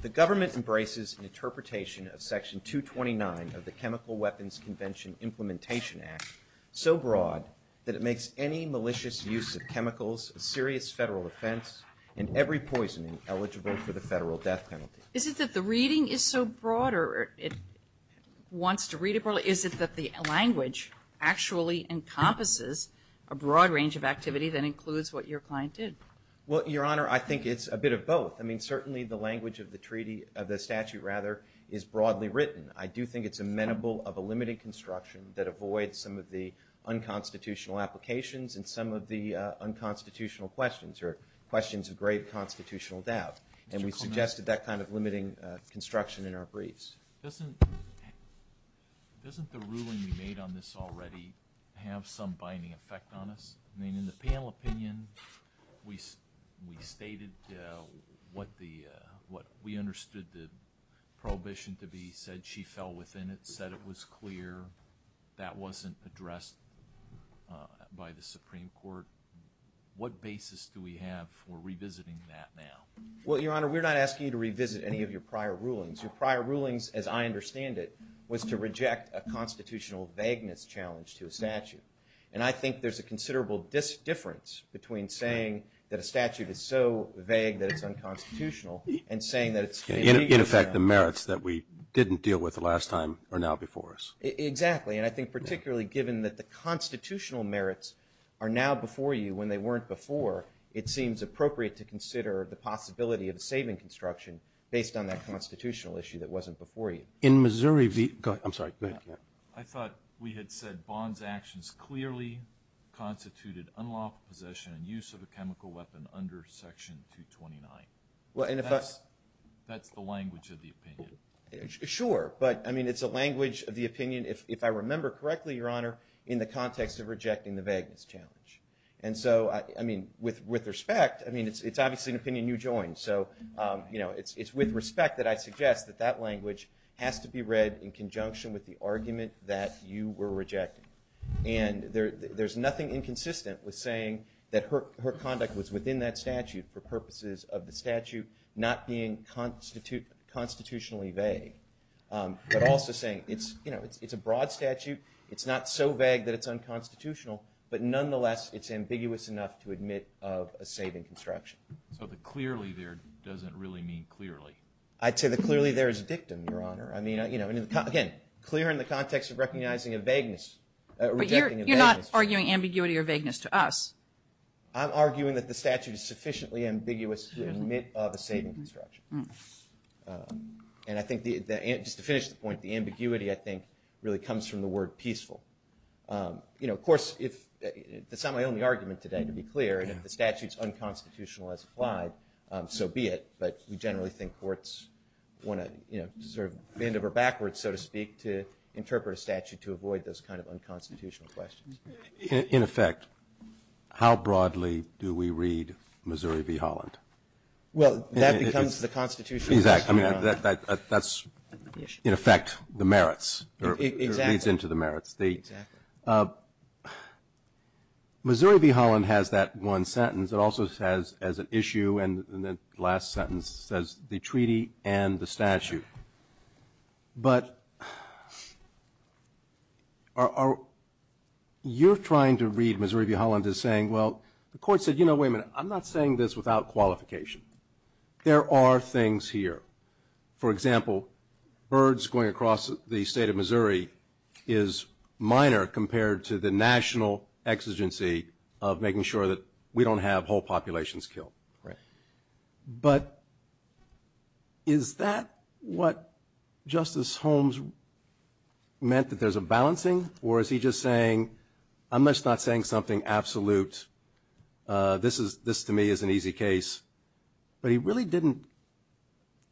The Government embraces an interpretation of Section 229 of the Chemical Weapons Convention Implementation Act so broad that it makes any malicious use of chemicals of serious federal offense and every poisoning eligible for the Federal Death Penalty. Is it that the reading is so broad or it wants to read it broadly? Is it that the language actually encompasses a broad range of activities and includes what your client did? Well, Your Honor, I think it's a bit of both. I mean, certainly the language of the treaty, of the statute rather, is broadly written. I do think it's amenable of a limited construction that avoids some of the unconstitutional applications and some of the unconstitutional questions or questions of grave constitutional doubt. And we suggested that kind of limiting construction in our briefs. Doesn't the ruling you made on this already have some binding effect on us? I mean, in the panel opinion, we stated what we understood the prohibition to be, said she fell within it, said it was clear. That wasn't addressed by the Supreme Court. What basis do we have for revisiting that now? Well, Your Honor, we're not asking you to revisit any of your prior rulings. Your prior rulings, as I understand it, was to reject a constitutional vagueness challenge to a statute. And I think there's a considerable difference between saying that a statute is so vague that it's unconstitutional and saying that it's... In effect, the merits that we didn't deal with the last time are now before us. Exactly. And I think particularly given that the constitutional merits are now before you when they weren't before, it seems appropriate to consider the possibility of saving construction based on that constitutional issue that wasn't before you. In Missouri... Go ahead. I'm sorry. I thought we had said Bond's actions clearly constituted unlawful possession and use of a chemical weapon under Section 229. That's the language of the opinion. Sure. But, I mean, it's a language of the opinion, if I remember correctly, Your Honor, in the context of rejecting the vagueness challenge. And so, I mean, with respect, I mean, it's obviously an opinion you joined. So, you know, it's with respect that I suggest that that language has to be read in conjunction with the argument that you were rejecting. And there's nothing inconsistent with saying that her conduct was within that statute for But also saying it's, you know, it's a broad statute. It's not so vague that it's unconstitutional. But nonetheless, it's ambiguous enough to admit of a saving construction. But the clearly there doesn't really mean clearly. I'd say the clearly there is a dictum, Your Honor. I mean, you know, again, clear in the context of recognizing a vagueness. You're not arguing ambiguity or vagueness to us. I'm arguing that the statute is sufficiently ambiguous to admit of a saving construction. And I think just to finish the point, the ambiguity, I think, really comes from the word peaceful. You know, of course, it's not my only argument today, to be clear. And if the statute's unconstitutional as applied, so be it. But we generally think courts want to, you know, sort of bend over backwards, so to speak, to interpret a statute to avoid those kind of unconstitutional questions. Well, that becomes the Constitution. Exactly. I mean, that's, in effect, the merits. Exactly. It leads into the merits. Missouri v. Holland has that one sentence. It also says as an issue, and the last sentence says the treaty and the statute. But you're trying to read Missouri v. Holland as saying, well, the court said, you know, wait a minute. I'm not saying this without qualification. There are things here. For example, birds going across the state of Missouri is minor compared to the national exigency of making sure that we don't have whole populations killed. Right. But is that what Justice Holmes meant, that there's a balancing? Or is he just saying, I'm just not saying something absolute. This, to me, is an easy case. But he really didn't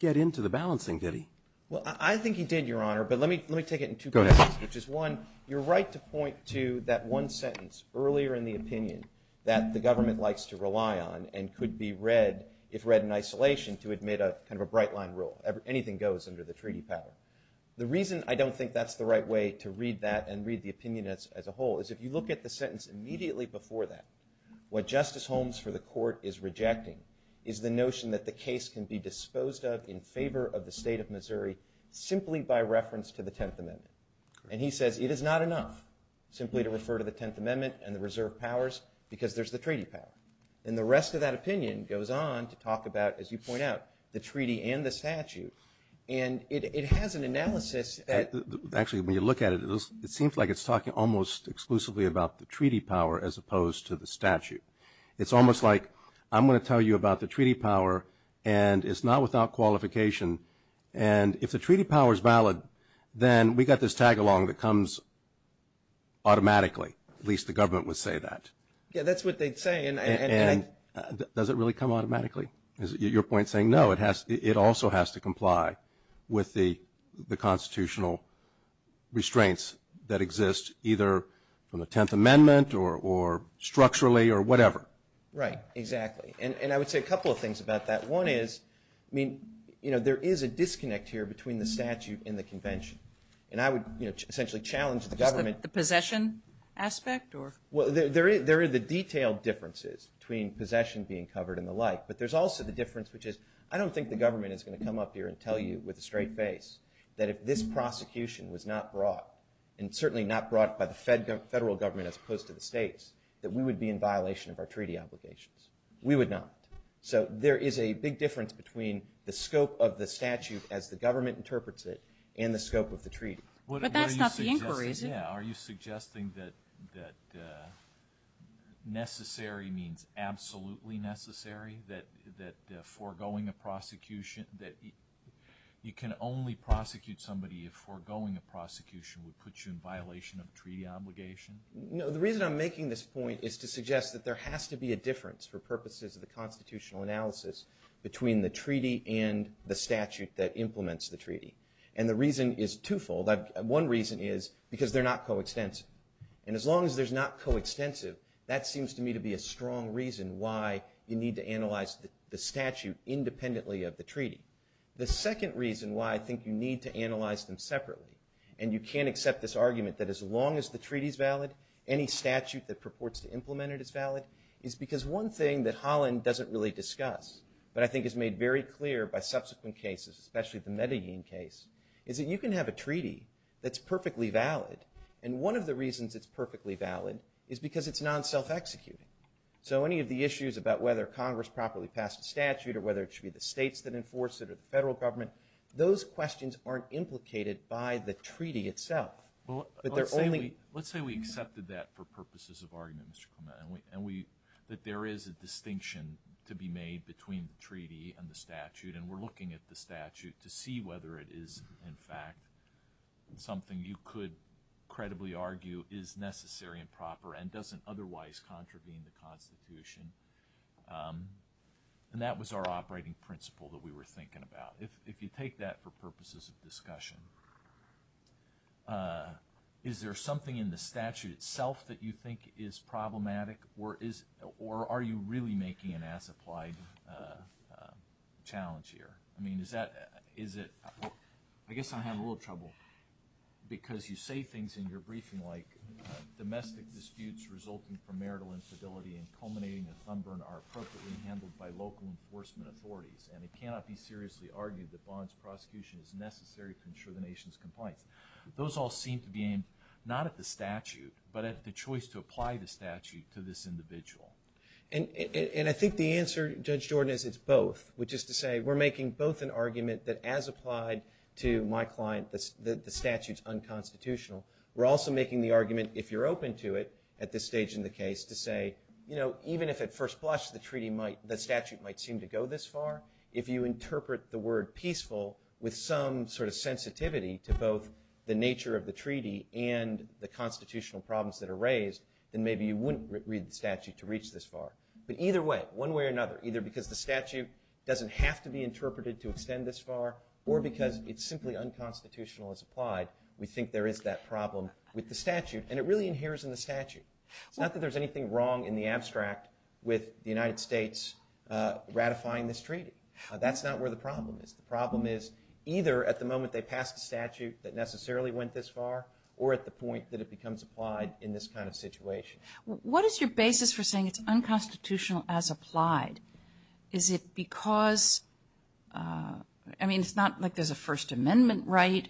get into the balancing, did he? Well, I think he did, Your Honor, but let me take it in two places. Go ahead. Which is, one, you're right to point to that one sentence earlier in the opinion that the government likes to rely on and could be read if read in isolation to admit a kind of a bright-line rule. Anything goes under the treaty pattern. The reason I don't think that's the right way to read that and read the opinion as a whole is if you look at the sentence immediately before that, what Justice Holmes for the court is rejecting is the notion that the case can be disposed of in favor of the state of Missouri simply by reference to the Tenth Amendment. And he says it is not enough simply to refer to the Tenth Amendment and the reserve powers because there's the treaty pattern. And the rest of that opinion goes on to talk about, as you point out, the treaty and the statute. And it has an analysis that – Actually, when you look at it, it seems like it's talking almost exclusively about the treaty power as opposed to the statute. It's almost like I'm going to tell you about the treaty power, and it's not without qualification. And if the treaty power is valid, then we've got this tag-along that comes automatically. At least the government would say that. Yeah, that's what they'd say. And does it really come automatically? Is your point saying, no, it also has to comply with the constitutional restraints that exist either from the Tenth Amendment or structurally or whatever? Right, exactly. And I would say a couple of things about that. One is, I mean, you know, there is a disconnect here between the statute and the convention. And I would, you know, essentially challenge the government. The possession aspect? Well, there are the detailed differences between possession being covered and the like. But there's also the difference, which is, I don't think the government is going to come up here and tell you with a straight face that if this prosecution was not brought, and certainly not brought by the federal government as opposed to the states, that we would be in violation of our treaty obligations. We would not. So there is a big difference between the scope of the statute as the government interprets it and the scope of the treaty. But that's not the inquiry. Yeah, are you suggesting that necessary means absolutely necessary, that foregoing a prosecution – that you can only prosecute somebody if foregoing a prosecution would put you in violation of treaty obligations? No, the reason I'm making this point is to suggest that there has to be a difference for purposes of the constitutional analysis between the treaty and the statute that implements the treaty. And the reason is twofold. One reason is because they're not coextensive. And as long as they're not coextensive, that seems to me to be a strong reason why you need to analyze the statute independently of the treaty. The second reason why I think you need to analyze them separately, and you can't accept this argument that as long as the treaty is valid, any statute that purports to implement it is valid, is because one thing that Holland doesn't really discuss, but I think is made very clear by subsequent cases, especially the Medellin case, is that you can have a treaty that's perfectly valid. And one of the reasons it's perfectly valid is because it's non-self-executive. So any of the issues about whether Congress properly passed the statute or whether it should be the states that enforce it or the federal government, those questions aren't implicated by the treaty itself. Let's say we accepted that for purposes of argument, Mr. Clement, and that there is a distinction to be made between the treaty and the statute, and we're looking at the statute to see whether it is in fact something you could credibly argue is necessary and proper and doesn't otherwise contravene the Constitution. And that was our operating principle that we were thinking about. If you take that for purposes of discussion, is there something in the statute itself that you think is problematic, or are you really making an as-applied challenge here? I guess I'm having a little trouble because you say things in your briefing like domestic disputes resulting from marital instability and culminating in sunburn are appropriately handled by local enforcement authorities, and it cannot be seriously argued that bond prosecution is necessary to ensure the nation's compliance. Those all seem to be aimed not at the statute, but at the choice to apply the statute to this individual. And I think the answer, Judge Jordan, is both, which is to say we're making both an argument that as applied to my client, the statute's unconstitutional. We're also making the argument, if you're open to it at this stage in the case, to say even if at first glance the statute might seem to go this far, if you interpret the word peaceful with some sort of sensitivity to both the nature of the treaty and the constitutional problems that are raised, then maybe you wouldn't read the statute to reach this far. But either way, one way or another, either because the statute doesn't have to be interpreted to extend this far or because it's simply unconstitutional as applied, we think there is that problem with the statute, and it really inheres in the statute. It's not that there's anything wrong in the abstract with the United States ratifying this treaty. That's not where the problem is. The problem is either at the moment they pass the statute that necessarily went this far or at the point that it becomes applied in this kind of situation. What is your basis for saying it's unconstitutional as applied? Is it because – I mean, it's not like there's a First Amendment right.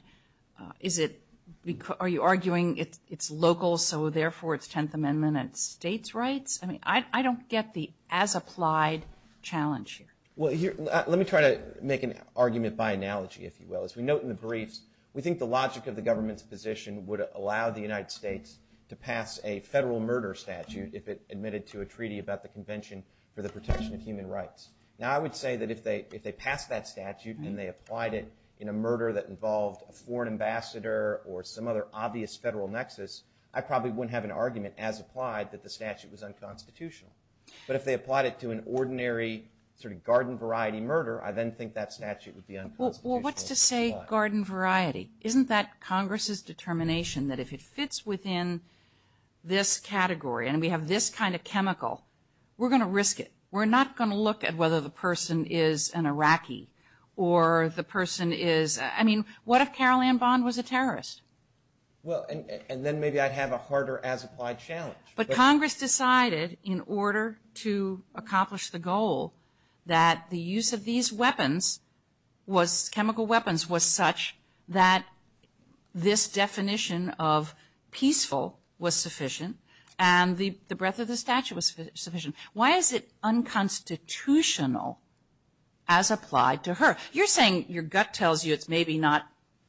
Are you arguing it's local, so therefore it's Tenth Amendment and states' rights? I mean, I don't get the as applied challenge here. Well, let me try to make an argument by analogy, if you will. As we note in the briefs, we think the logic of the government's position would allow the United States to pass a federal murder statute if it admitted to a treaty about the Convention for the Protection of Human Rights. Now, I would say that if they passed that statute and they applied it in a murder that involved a foreign ambassador or some other obvious federal nexus, I probably wouldn't have an argument as applied that the statute was unconstitutional. But if they applied it to an ordinary sort of garden variety murder, I then think that statute would be unconstitutional as applied. Well, what's to say garden variety? Isn't that Congress's determination that if it fits within this category and we have this kind of chemical, we're going to risk it? We're not going to look at whether the person is an Iraqi or the person is – I mean, what if Carol Ann Bond was a terrorist? Well, and then maybe I'd have a harder as applied challenge. But Congress decided in order to accomplish the goal that the use of these weapons was – chemical weapons was such that this definition of peaceful was sufficient and the breadth of the statute was sufficient. Why is it unconstitutional as applied to her? You're saying your gut tells you it's maybe not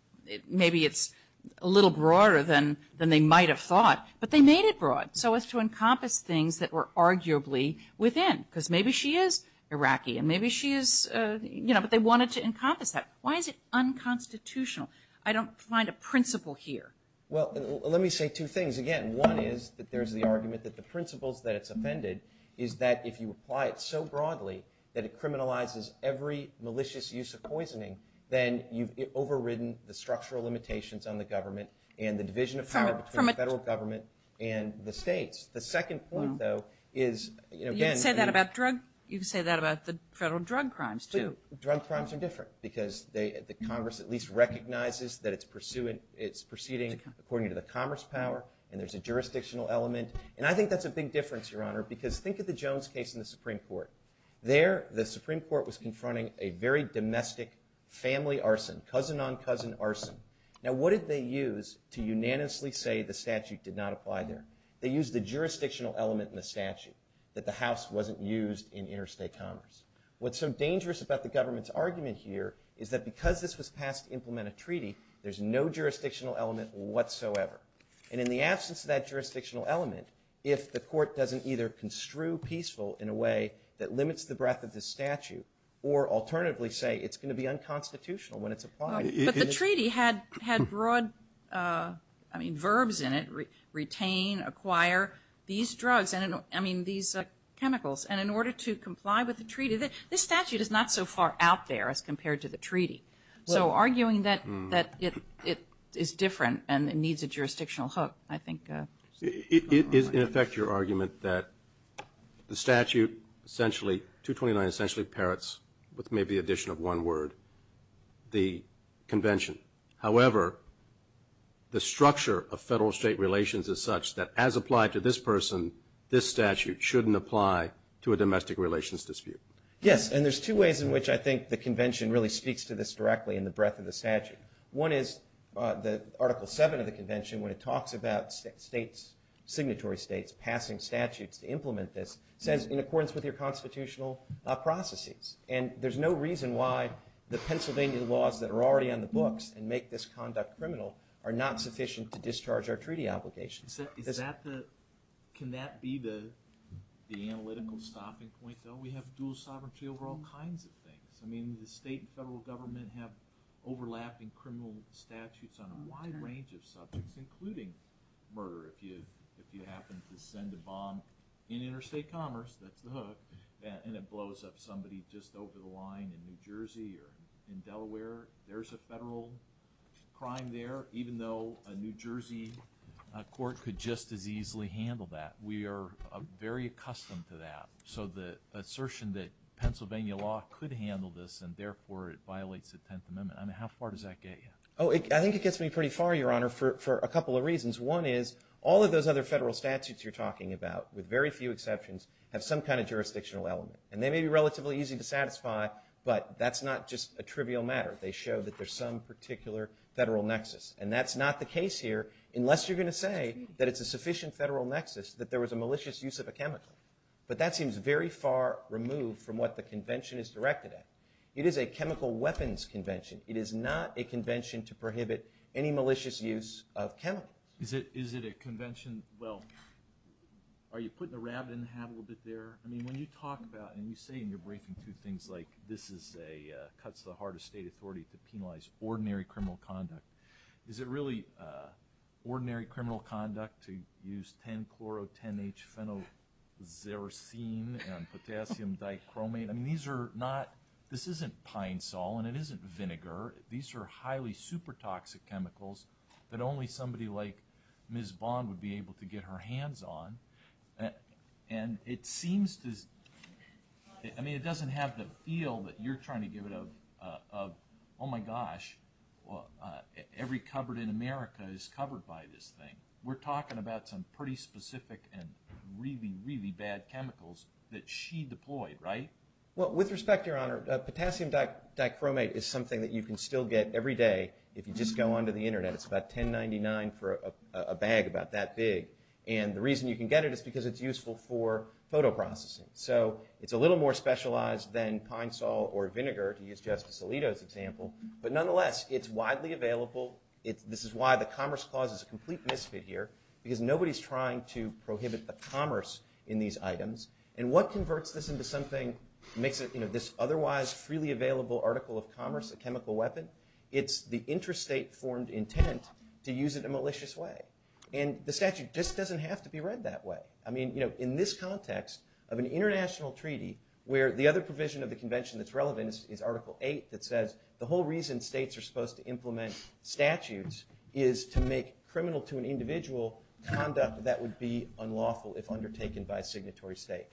– maybe it's a little broader than they might have thought, but they made it broad so as to encompass things that were arguably within because maybe she is Iraqi and maybe she is – but they wanted to encompass that. Why is it unconstitutional? I don't find a principle here. Well, let me say two things. Again, one is that there's the argument that the principle that's amended is that if you apply it so broadly that it criminalizes every malicious use of poisoning, then you've overridden the structural limitations on the government and the division of power between the federal government and the states. The second point, though, is – You can say that about drug – you can say that about the federal drug crimes too. The federal drug crimes are different because the Congress at least recognizes that it's proceeding according to the commerce power and there's a jurisdictional element. And I think that's a big difference, Your Honor, because think of the Jones case in the Supreme Court. There, the Supreme Court was confronting a very domestic family arson, cousin-on-cousin arson. Now, what did they use to unanimously say the statute did not apply there? They used the jurisdictional element in the statute that the House wasn't used in interstate commerce. What's so dangerous about the government's argument here is that because this was passed to implement a treaty, there's no jurisdictional element whatsoever. And in the absence of that jurisdictional element, if the court doesn't either construe peaceful in a way that limits the breadth of the statute or alternatively say it's going to be unconstitutional when it's applied – But the treaty had broad, I mean, verbs in it – retain, acquire, these drugs – I mean, these chemicals. And in order to comply with the treaty – this statute is not so far out there as compared to the treaty. So arguing that it is different and it needs a jurisdictional hook, I think – It is, in effect, your argument that the statute essentially – 229 essentially parrots, with maybe the addition of one word, the convention. However, the structure of federal-state relations is such that as applied to this person, this statute shouldn't apply to a domestic relations dispute. Yes, and there's two ways in which I think the convention really speaks to this directly in the breadth of the statute. One is that Article 7 of the convention, when it talks about states, signatory states passing statutes to implement this, says in accordance with your constitutional processes. And there's no reason why the Pennsylvania laws that are already on the books and make this conduct criminal are not sufficient to discharge our treaty obligations. Can that be the analytical stopping point, though? We have dual sovereignty over all kinds of things. I mean, the state and federal government have overlapping criminal statutes on a wide range of subjects, including murder, if you happen to send a bomb. In interstate commerce, that's the hook, and it blows up somebody just over the line in New Jersey or in Delaware. There's a federal crime there, even though a New Jersey court could just as easily handle that. We are very accustomed to that, so the assertion that Pennsylvania law could handle this and therefore it violates the Tenth Amendment, I mean, how far does that get you? Oh, I think it gets me pretty far, Your Honor, for a couple of reasons. One is all of those other federal statutes you're talking about, with very few exceptions, have some kind of jurisdictional element. And they may be relatively easy to satisfy, but that's not just a trivial matter. They show that there's some particular federal nexus, and that's not the case here unless you're going to say that it's a sufficient federal nexus that there was a malicious use of a chemical. But that seems very far removed from what the convention is directed at. It is a chemical weapons convention. It is not a convention to prohibit any malicious use of chemical. Is it a convention – well, are you putting the rabbit in the hat a little bit there? I mean, when you talk about – and you say in your briefing, too, things like this is a – cuts the heart of state authority to penalize ordinary criminal conduct. Is it really ordinary criminal conduct to use 10-chloro-10-H-phenoxyrazine and potassium dichromate? I mean, these are not – this isn't Pine Sol and it isn't vinegar. These are highly super-toxic chemicals that only somebody like Ms. Bond would be able to get her hands on. And it seems to – I mean, it doesn't have the feel that you're trying to get rid of, oh, my gosh, every cupboard in America is covered by this thing. We're talking about some pretty specific and really, really bad chemicals that she deployed, right? Well, with respect, Your Honor, potassium dichromate is something that you can still get every day if you just go onto the Internet. It's about $10.99 for a bag about that big. And the reason you can get it is because it's useful for photo processing. So it's a little more specialized than Pine Sol or vinegar, to use Justice Alito's example. But nonetheless, it's widely available. This is why the Commerce Clause is a complete misfit here, because nobody's trying to prohibit the commerce in these items. And what converts this into something – makes this otherwise freely available article of commerce a chemical weapon? It's the interstate-formed intent to use it in a malicious way. And the statute just doesn't have to be read that way. I mean, in this context of an international treaty where the other provision of the convention that's relevant is Article 8 that says the whole reason states are supposed to implement statutes is to make criminal to an individual conduct that would be unlawful if undertaken by a signatory state.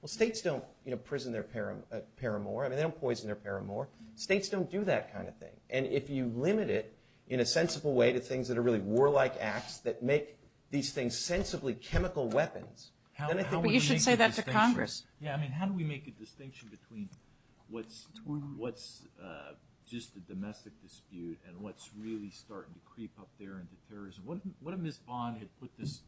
Well, states don't prison their paramour. I mean, they don't poison their paramour. States don't do that kind of thing. And if you limit it in a sensible way to things that are really warlike acts that make these things sensibly chemical weapons, then it's a – You should say that to Congress. Yeah, I mean, how do we make a distinction between what's just a domestic dispute and what's really starting to creep up there into terrorism? What if Ms. Bond had put this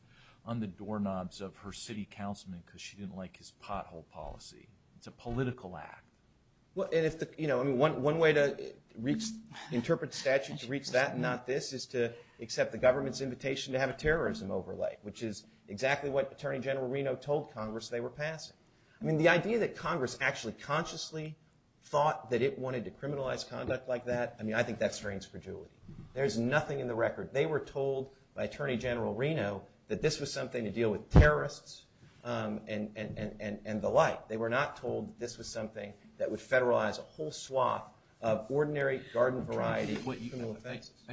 on the doorknobs of her city councilman because she didn't like his pothole policy? It's a political act. One way to interpret statutes to reach that and not this is to accept the government's invitation to have a terrorism overlay, which is exactly what Attorney General Reno told Congress they were passing. I mean, the idea that Congress actually consciously thought that it wanted to criminalize conduct like that, I mean, I think that's strange for Julie. There's nothing in the record. They were told by Attorney General Reno that this was something to deal with terrorists and the like. But they were not told that this was something that would federalize a whole swath of ordinary garden variety.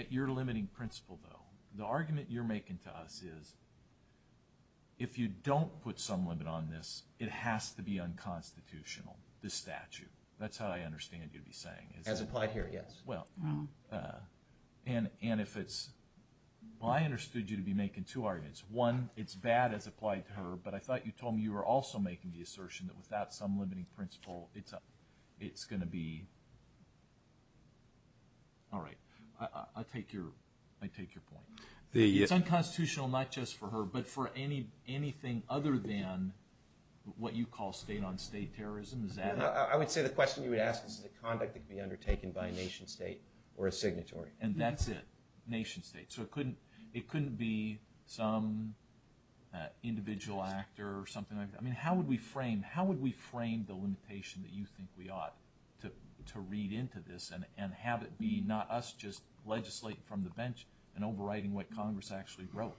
You're limiting principle, though. The argument you're making to us is if you don't put some limit on this, it has to be unconstitutional, this statute. That's how I understand you to be saying it. As applied here, yes. And if it's – I understood you to be making two arguments. One, it's bad as applied to her, but I thought you told me you were also making the assertion that without some limiting principle, it's going to be – all right. I'll take your point. It's unconstitutional not just for her but for anything other than what you call state-on-state terrorism. I would say the question you would ask is the conduct that could be undertaken by a nation-state or a signatory. And that's it, nation-state. So it couldn't be some individual actor or something. I mean, how would we frame the limitation that you think we ought to read into this and have it be not us just legislating from the bench and overriding what Congress actually wrote?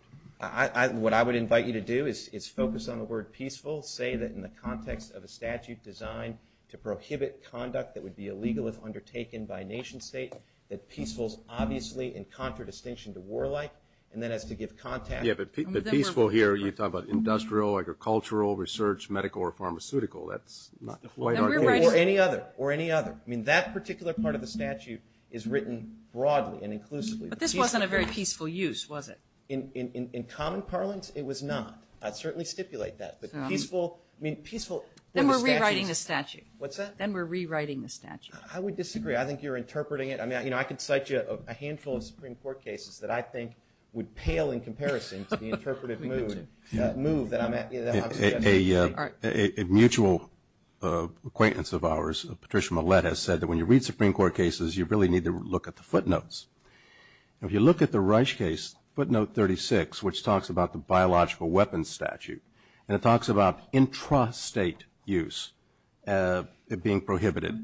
What I would invite you to do is focus on the word peaceful. Say that in the context of a statute designed to prohibit conduct that would be illegal if undertaken by a nation-state, that peaceful is obviously in contradistinction to warlike, and that has to give context. Yeah, but peaceful here, you're talking about industrial, agricultural, research, medical, or pharmaceutical. That's not the point. Or any other. I mean, that particular part of the statute is written broadly and inclusively. But this wasn't a very peaceful use, was it? In common parlance, it was not. I'd certainly stipulate that. Then we're rewriting the statute. What's that? Then we're rewriting the statute. I would disagree. I think you're interpreting it. You know, I could cite you a handful of Supreme Court cases that I think would pale in comparison to the interpretive move. A mutual acquaintance of ours, Patricia Mallette, has said that when you read Supreme Court cases, you really need to look at the footnotes. If you look at the Reich case, footnote 36, which talks about the biological weapons statute, and it talks about intrastate use being prohibited.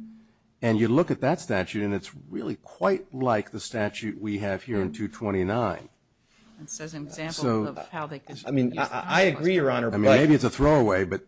And you look at that statute, and it's really quite like the statute we have here in 229. So it's an example of how they could. I mean, I agree, Your Honor. Maybe it's a throwaway, but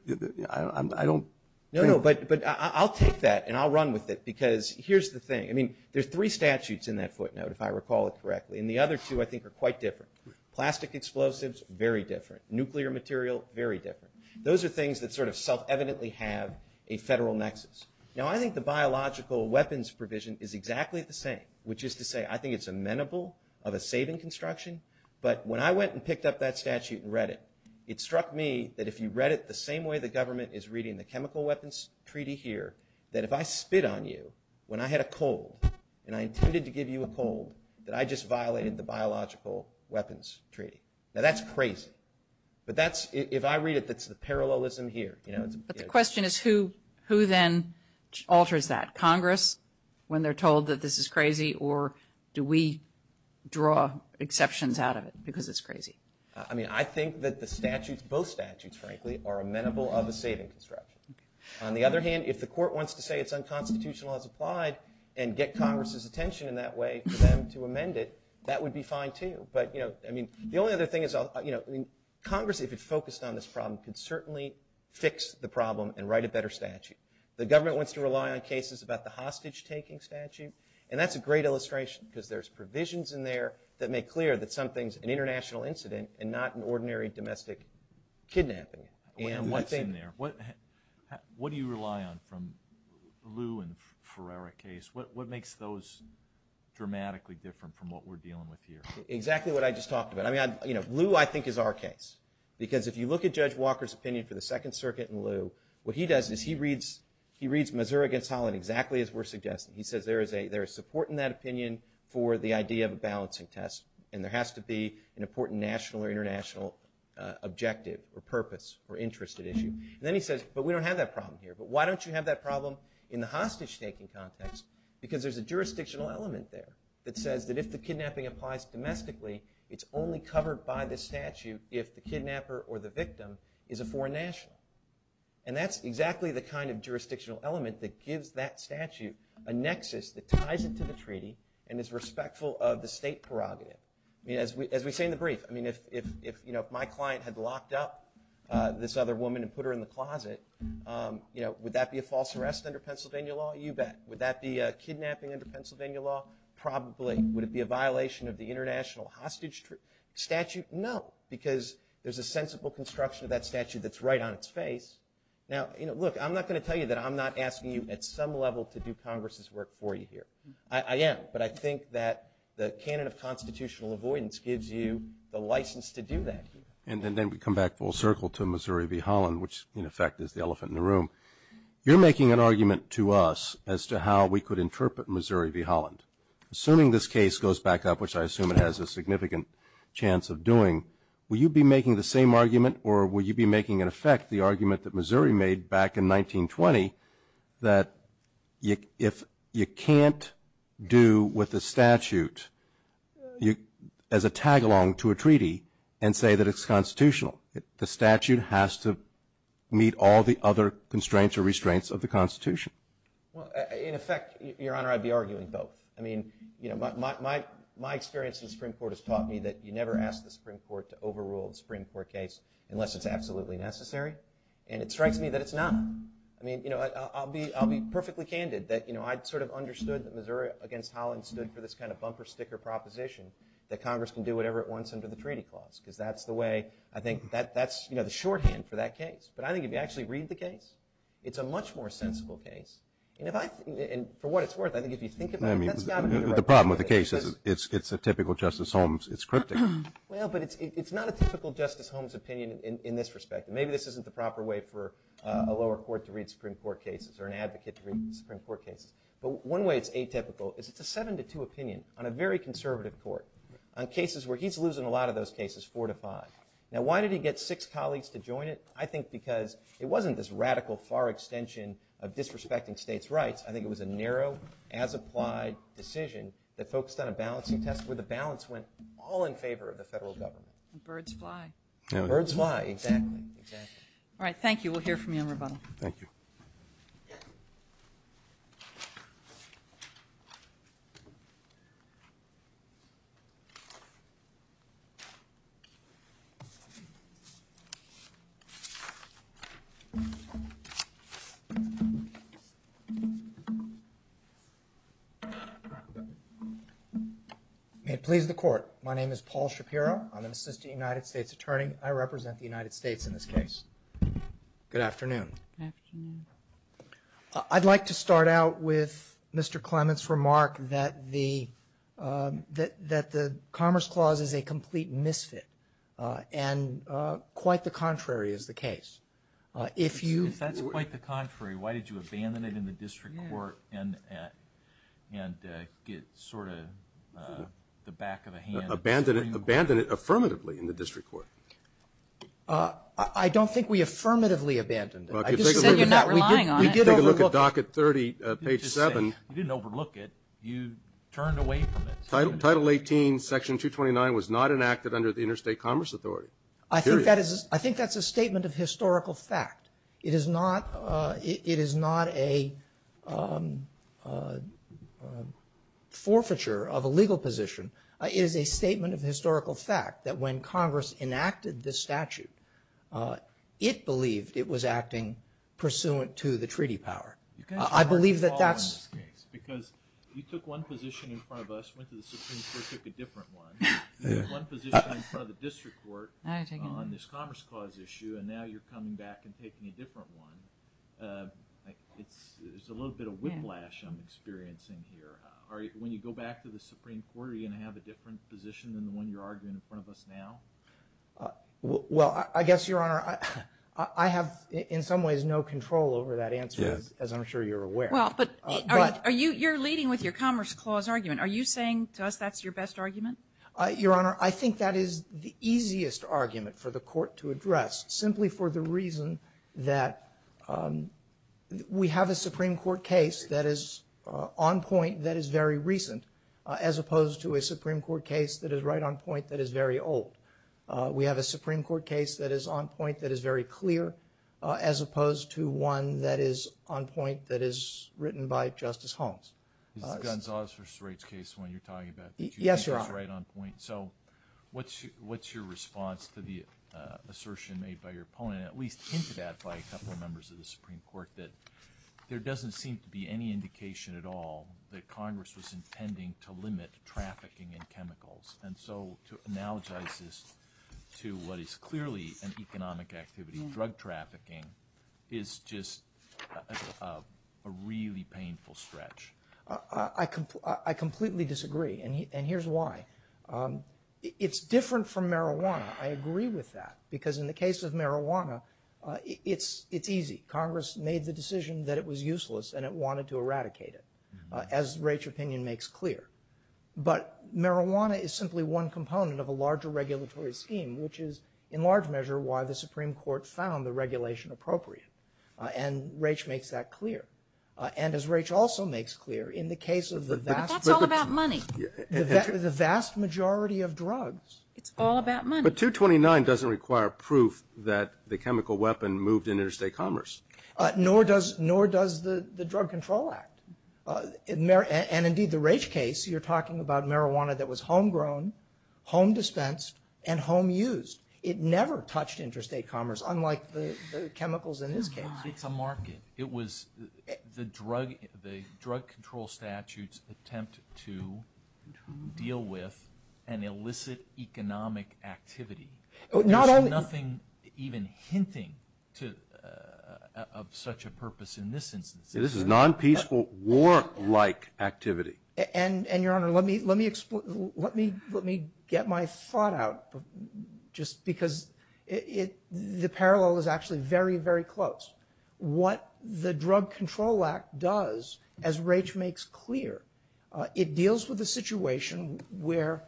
I don't. No, no, but I'll take that, and I'll run with it, because here's the thing. I mean, there are three statutes in that footnote, if I recall it correctly, and the other two I think are quite different. Plastic explosives, very different. Nuclear material, very different. Those are things that sort of self-evidently have a federal nexus. Now, I think the biological weapons provision is exactly the same, which is to say I think it's amenable of a saving construction. But when I went and picked up that statute and read it, it struck me that if you read it the same way the government is reading the chemical weapons treaty here, that if I spit on you when I had a cold and I intended to give you a cold, that I just violated the biological weapons treaty. Now, that's crazy. But if I read it, it's the parallelism here. But the question is who then alters that, Congress, when they're told that this is crazy, or do we draw exceptions out of it because it's crazy? I mean, I think that the statute, both statutes, frankly, are amenable of a saving construction. On the other hand, if the court wants to say it's unconstitutional as applied and get Congress's attention in that way for them to amend it, that would be fine, too. But, you know, I mean, the only other thing is, you know, Congress, if it's focused on this problem, could certainly fix the problem and write a better statute. The government wants to rely on cases about the hostage-taking statute, and that's a great illustration because there's provisions in there that make clear that something's an international incident and not an ordinary domestic kidnapping. What's in there? What do you rely on from Lew and Ferreira case? What makes those dramatically different from what we're dealing with here? Exactly what I just talked about. Lew, I think, is our case because if you look at Judge Walker's opinion for the Second Circuit and Lew, what he does is he reads Missouri v. Holland exactly as we're suggesting. He says there is support in that opinion for the idea of a balancing test, and there has to be an important national or international objective or purpose or interest at issue. Then he says, but we don't have that problem here. But why don't you have that problem in the hostage-taking context? Because there's a jurisdictional element there that says that if the kidnapping applies domestically, it's only covered by the statute if the kidnapper or the victim is a foreign national. And that's exactly the kind of jurisdictional element that gives that statute a nexus that ties it to the treaty and is respectful of the state prerogative. As we say in the brief, if my client had locked up this other woman and put her in the closet, would that be a false arrest under Pennsylvania law? You bet. Would that be a kidnapping under Pennsylvania law? Probably. Would it be a violation of the international hostage statute? No, because there's a sensible construction of that statute that's right on its face. Now, look, I'm not going to tell you that I'm not asking you at some level to do Congress's work for you here. I am, but I think that the canon of constitutional avoidance gives you the license to do that. And then we come back full circle to Missouri v. Holland, which, in effect, is the elephant in the room. You're making an argument to us as to how we could interpret Missouri v. Holland. Assuming this case goes back up, which I assume it has a significant chance of doing, will you be making the same argument or will you be making, in effect, the argument that Missouri made back in 1920 that if you can't do with the statute as a tag-along to a treaty and say that it's constitutional, the statute has to meet all the other constraints or restraints of the Constitution? In effect, Your Honor, I'd be arguing both. I mean, my experience in the Supreme Court has taught me that you never ask the Supreme Court to overrule the Supreme Court case unless it's absolutely necessary, and it strikes me that it's not. I mean, I'll be perfectly candid that I sort of understood that Missouri v. Holland stood for this kind of bumper sticker proposition that Congress can do whatever it wants under the treaty clause because that's the way, I think, that's the shorthand for that case. But I think if you actually read the case, it's a much more sensible case. And if I – and for what it's worth, I think if you think about it – I mean, the problem with the case is it's a typical Justice Holmes. It's cryptic. Well, but it's not a typical Justice Holmes opinion in this respect. Maybe this isn't the proper way for a lower court to read Supreme Court cases or an advocate to read Supreme Court cases. But one way it's atypical is it's a seven-to-two opinion on a very conservative court, on cases where he's losing a lot of those cases four to five. Now, why did he get six colleagues to join it? I think because it wasn't this radical far extension of disrespecting states' rights. I think it was a narrow, as-applied decision that focused on a balancing test where the balance went all in favor of the federal government. Birds fly. Birds fly, exactly. All right, thank you. We'll hear from you in rebuttal. Thank you. May it please the Court. My name is Paul Shapiro. I'm an assistant United States attorney. I represent the United States in this case. Good afternoon. Good afternoon. I'd like to start out with Mr. Clement's remark that the Commerce Clause is a complete misfit, and quite the contrary is the case. If that's quite the contrary, why did you abandon it in the district court and get sort of the back of a hand? Abandon it? Abandon it affirmatively in the district court. I don't think we affirmatively abandoned it. Then you're not relying on it. Take a look at Docket 30, page 7. You didn't overlook it. You turned away from it. Title 18, Section 229 was not enacted under the Interstate Commerce Authority. Period. I think that's a statement of historical fact. It is not a forfeiture of a legal position. It is a statement of historical fact that when Congress enacted this statute, it believed it was acting pursuant to the treaty power. Because you took one position in front of us and went to the Supreme Court and took a different one. You took one position in front of the district court on this Commerce Clause issue, and now you're coming back and taking a different one. It's a little bit of whiplash I'm experiencing here. When you go back to the Supreme Court, are you going to have a different position than the one you're arguing in front of us now? Well, I guess, Your Honor, I have in some ways no control over that answer, as I'm sure you're aware. Well, but you're leading with your Commerce Clause argument. Are you saying to us that's your best argument? Your Honor, I think that is the easiest argument for the court to address, simply for the reason that we have a Supreme Court case that is on point that is very recent, as opposed to a Supreme Court case that is right on point that is very old. We have a Supreme Court case that is on point that is very clear, as opposed to one that is on point that is written by Justice Holmes. The Gonzales v. Straits case, the one you're talking about. Yes, Your Honor. So what's your response to the assertion made by your opponent, at least hinted at by a couple of members of the Supreme Court, that there doesn't seem to be any indication at all that Congress was intending to limit trafficking in chemicals. And so to analogize this to what is clearly an economic activity, drug trafficking, is just a really painful stretch. I completely disagree, and here's why. It's different from marijuana. I agree with that, because in the case of marijuana, it's easy. Congress made the decision that it was useless and it wanted to eradicate it, as Raich's opinion makes clear. But marijuana is simply one component of a larger regulatory scheme, which is in large measure why the Supreme Court found the regulation appropriate, and Raich makes that clear. And as Raich also makes clear, in the case of the vast majority of drugs. But 229 doesn't require proof that the chemical weapon moved in interstate commerce. Nor does the Drug Control Act. And indeed, the Raich case, you're talking about marijuana that was homegrown, home dispensed, and home used. It never touched interstate commerce, unlike the chemicals in his case. It was the drug control statute's attempt to deal with an illicit economic activity. There's nothing even hinting of such a purpose in this instance. This is non-peaceful, war-like activity. And, Your Honor, let me get my thought out, just because the parallel is actually very, very close. What the Drug Control Act does, as Raich makes clear, it deals with a situation where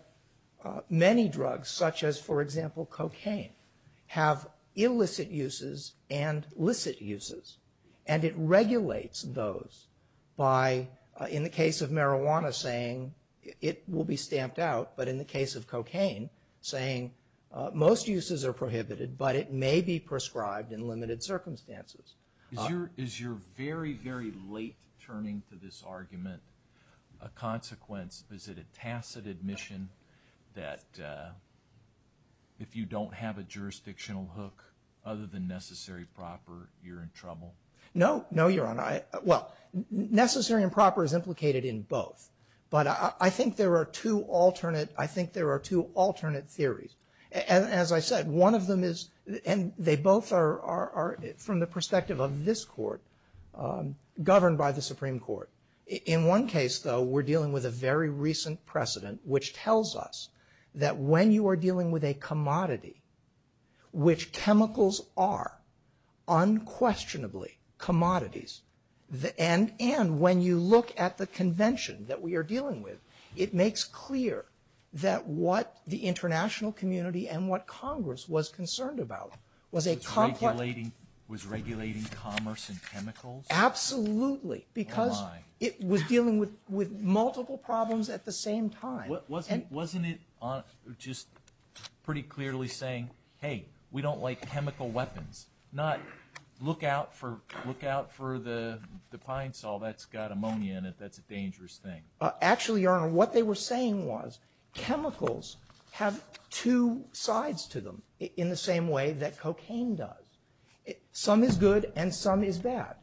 many drugs, such as, for example, cocaine, have illicit uses and licit uses. And it regulates those by, in the case of marijuana, saying it will be stamped out. But in the case of cocaine, saying most uses are prohibited, but it may be prescribed in limited circumstances. Is your very, very late turning to this argument a consequence? Is it a tacit admission that if you don't have a jurisdictional hook other than necessary and proper, you're in trouble? No, Your Honor. Well, necessary and proper is implicated in both. But I think there are two alternate theories. As I said, one of them is – and they both are, from the perspective of this court, governed by the Supreme Court. In one case, though, we're dealing with a very recent precedent, which tells us that when you are dealing with a commodity, which chemicals are unquestionably commodities, and when you look at the convention that we are dealing with, it makes clear that what the international community and what Congress was concerned about was a – Was regulating commerce in chemicals? Absolutely, because it was dealing with multiple problems at the same time. Wasn't it just pretty clearly saying, hey, we don't like chemical weapons, not look out for the pine saw. That's got ammonia in it. That's a dangerous thing. Actually, Your Honor, what they were saying was chemicals have two sides to them in the same way that cocaine does. Some is good and some is bad.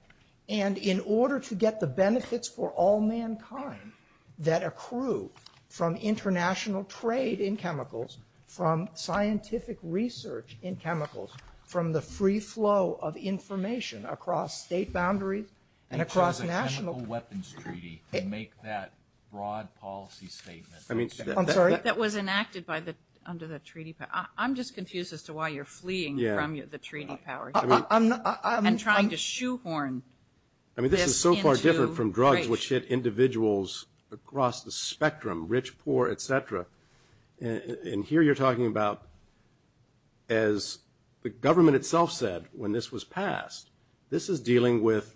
And in order to get the benefits for all mankind that accrue from international trade in chemicals, from scientific research in chemicals, from the free flow of information across state boundaries and across national – It was a chemical weapons treaty to make that broad policy statement. I'm sorry? That was enacted by the – under the treaty. I'm just confused as to why you're fleeing from the treaty powers and trying to shoehorn this into – I mean, this is so far different from drugs which hit individuals across the spectrum, rich, poor, et cetera. And here you're talking about, as the government itself said when this was passed, this is dealing with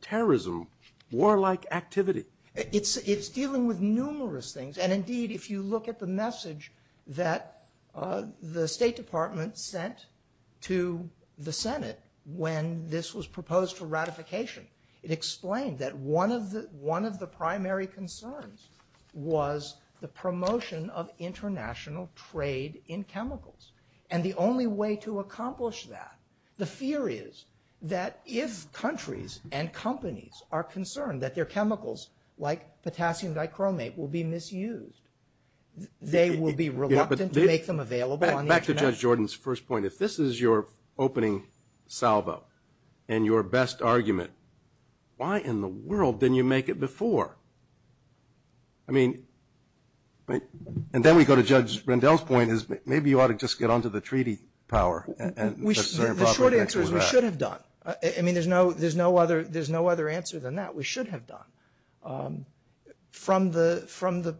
terrorism, warlike activity. It's dealing with numerous things. And indeed, if you look at the message that the State Department sent to the Senate when this was proposed for ratification, it explained that one of the primary concerns was the promotion of international trade in chemicals, and the only way to accomplish that – if countries and companies are concerned that their chemicals, like potassium dichromate, will be misused, they will be reluctant to make them available on international – Back to Judge Jordan's first point. If this is your opening salvo and your best argument, why in the world didn't you make it before? I mean – and then we go to Judge Rendell's point is maybe you ought to just get onto the treaty power and – The short answer is we should have done. I mean, there's no other answer than that. We should have done. From the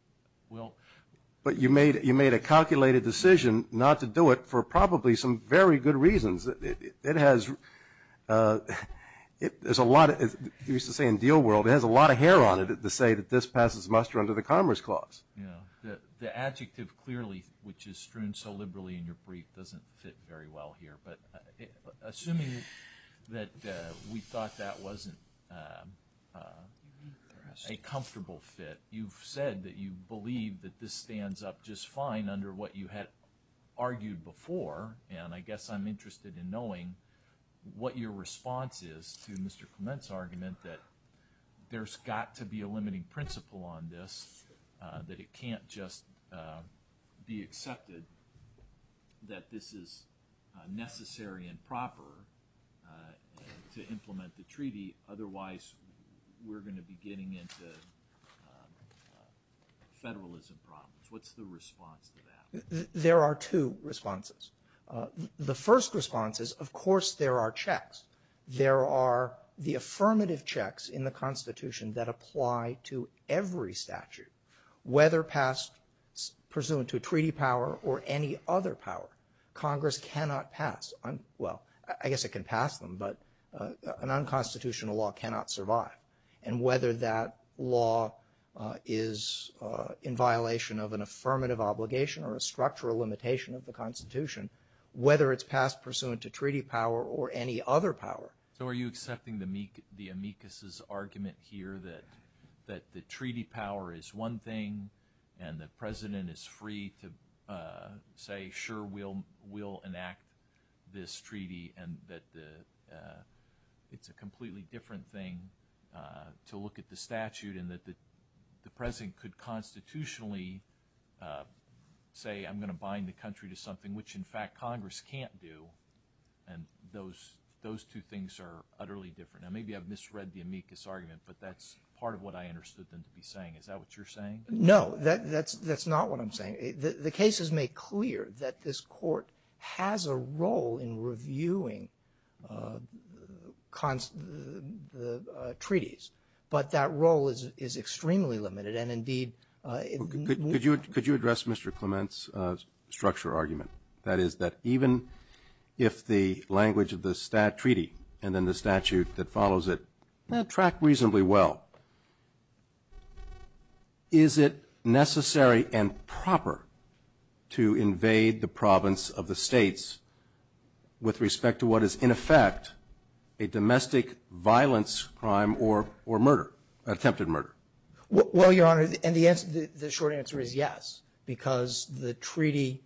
– But you made a calculated decision not to do it for probably some very good reasons. It has – there's a lot – you used to say in deal world it has a lot of hair on it to say that this passes muster under the Commerce Clause. The adjective clearly, which is strewn so liberally in your brief, doesn't fit very well here, but assuming that we thought that wasn't a comfortable fit, you've said that you believe that this stands up just fine under what you had argued before, and I guess I'm interested in knowing what your response is to Mr. Clement's argument that there's got to be a limiting principle on this, that it can't just be accepted that this is necessary and proper to implement the treaty. Otherwise, we're going to be getting into federalism problems. What's the response to that? There are two responses. The first response is, of course, there are checks. There are the affirmative checks in the Constitution that apply to every statute, whether passed pursuant to a treaty power or any other power. Congress cannot pass – well, I guess it can pass them, but an unconstitutional law cannot survive. And whether that law is in violation of an affirmative obligation or a structural limitation of the Constitution, whether it's passed pursuant to treaty power or any other power. So are you accepting the amicus's argument here that the treaty power is one thing and the president is free to say, sure, we'll enact this treaty and that it's a completely different thing to look at the statute and that the president could constitutionally say, I'm going to bind the country to something which, in fact, Congress can't do. And those two things are utterly different. Now, maybe I've misread the amicus argument, but that's part of what I understood them to be saying. Is that what you're saying? The cases make clear that this court has a role in reviewing the treaties, but that role is extremely limited and, indeed, Could you address Mr. Clement's structure argument? That is that even if the language of the treaty and then the statute that follows it track reasonably well, is it necessary and proper to invade the province of the states with respect to what is, in effect, a domestic violence crime or attempted murder? Well, Your Honor, the short answer is yes, because the treaty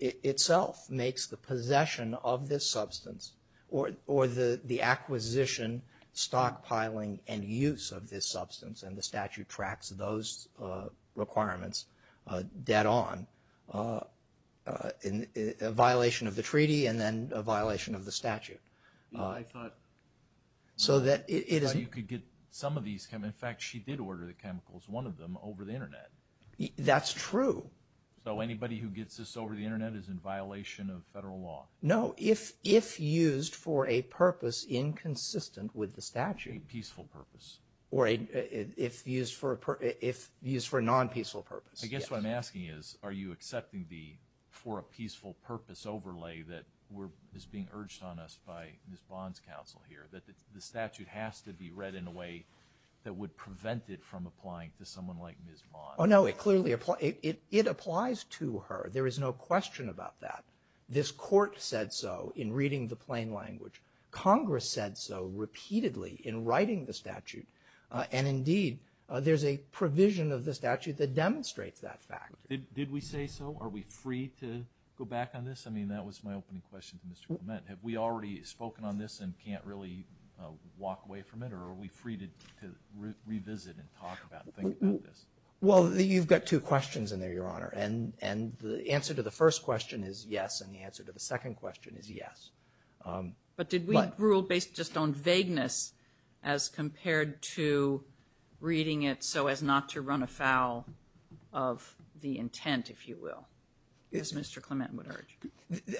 itself makes the possession of this substance or the acquisition, stockpiling, and use of this substance and the statute tracks those requirements dead on, a violation of the treaty and then a violation of the statute. I thought you could get some of these – in fact, she did order the chemicals, one of them, over the internet. That's true. So anybody who gets this over the internet is in violation of federal law? No, if used for a purpose inconsistent with the statute. A peaceful purpose. Or if used for a non-peaceful purpose. I guess what I'm asking is, are you accepting the for a peaceful purpose overlay that is being urged on us by Ms. Bond's counsel here, that the statute has to be read in a way that would prevent it from applying to someone like Ms. Bond? Oh, no, it clearly – it applies to her. There is no question about that. This court said so in reading the plain language. Congress said so repeatedly in writing the statute. And indeed, there's a provision of the statute that demonstrates that fact. Did we say so? Are we free to go back on this? I mean, that was my opening question to Mr. Clement. Have we already spoken on this and can't really walk away from it, or are we free to revisit and talk about this? Well, you've got two questions in there, Your Honor, and the answer to the first question is yes, and the answer to the second question is yes. But did we rule based just on vagueness as compared to reading it so as not to run afoul of the intent, if you will, as Mr. Clement would urge?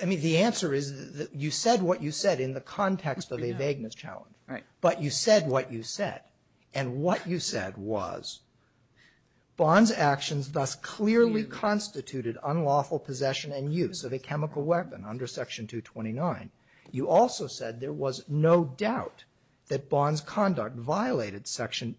I mean, the answer is that you said what you said in the context of a vagueness challenge, but you said what you said. And what you said was Bonn's actions thus clearly constituted unlawful possession and use of a chemical weapon under Section 229. You also said there was no doubt that Bonn's conduct violated Section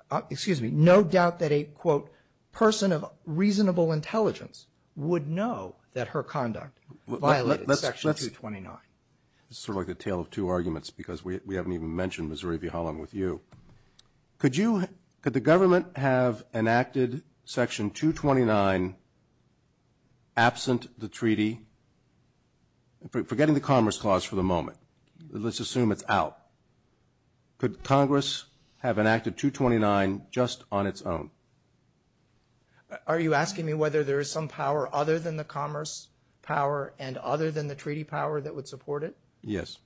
– excuse me – no doubt that a, quote, person of reasonable intelligence would know that her conduct violated Section 229. It's sort of like a tale of two arguments because we haven't even mentioned Missouri v. Holland with you. Could you – could the government have enacted Section 229 absent the treaty? Forgetting the Commerce Clause for the moment, let's assume it's out. Could Congress have enacted 229 just on its own? Are you asking me whether there is some power other than the commerce power and other than the treaty power that would support it? Yes.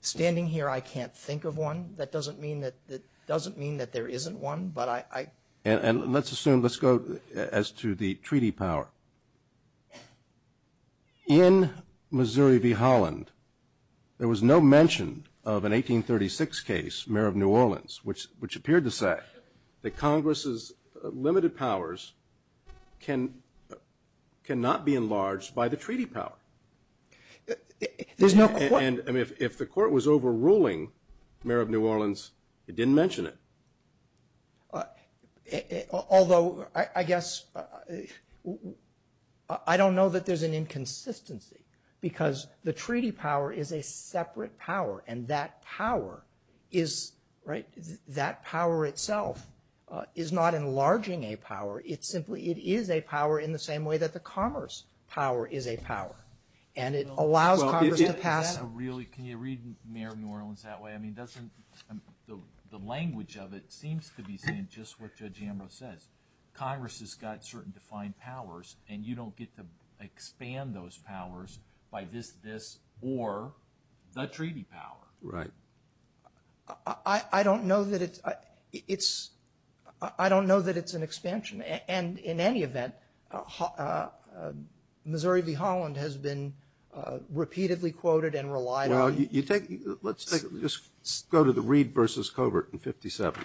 Standing here, I can't think of one. That doesn't mean that there isn't one, but I – And let's assume – let's go as to the treaty power. In Missouri v. Holland, there was no mention of an 1836 case, Mayor of New Orleans, which appeared to say that Congress's limited powers cannot be enlarged by the treaty power. There's no – And if the court was overruling Mayor of New Orleans, it didn't mention it. Although, I guess – I don't know that there's an inconsistency because the treaty power is a separate power, and that power is – right? That power itself is not enlarging a power. It simply – it is a power in the same way that the commerce power is a power, and it allows Congress to pass it. Can you read Mayor of New Orleans that way? I mean, doesn't – the language of it seems to be saying just what Judge Ambrose said. Congress has got certain defined powers, and you don't get to expand those powers by this, this, or the treaty power. Right. I don't know that it's – I don't know that it's an expansion. And in any event, Missouri v. Holland has been repeatedly quoted and relied on. Now, you take – let's just go to the Reed v. Covert in 57.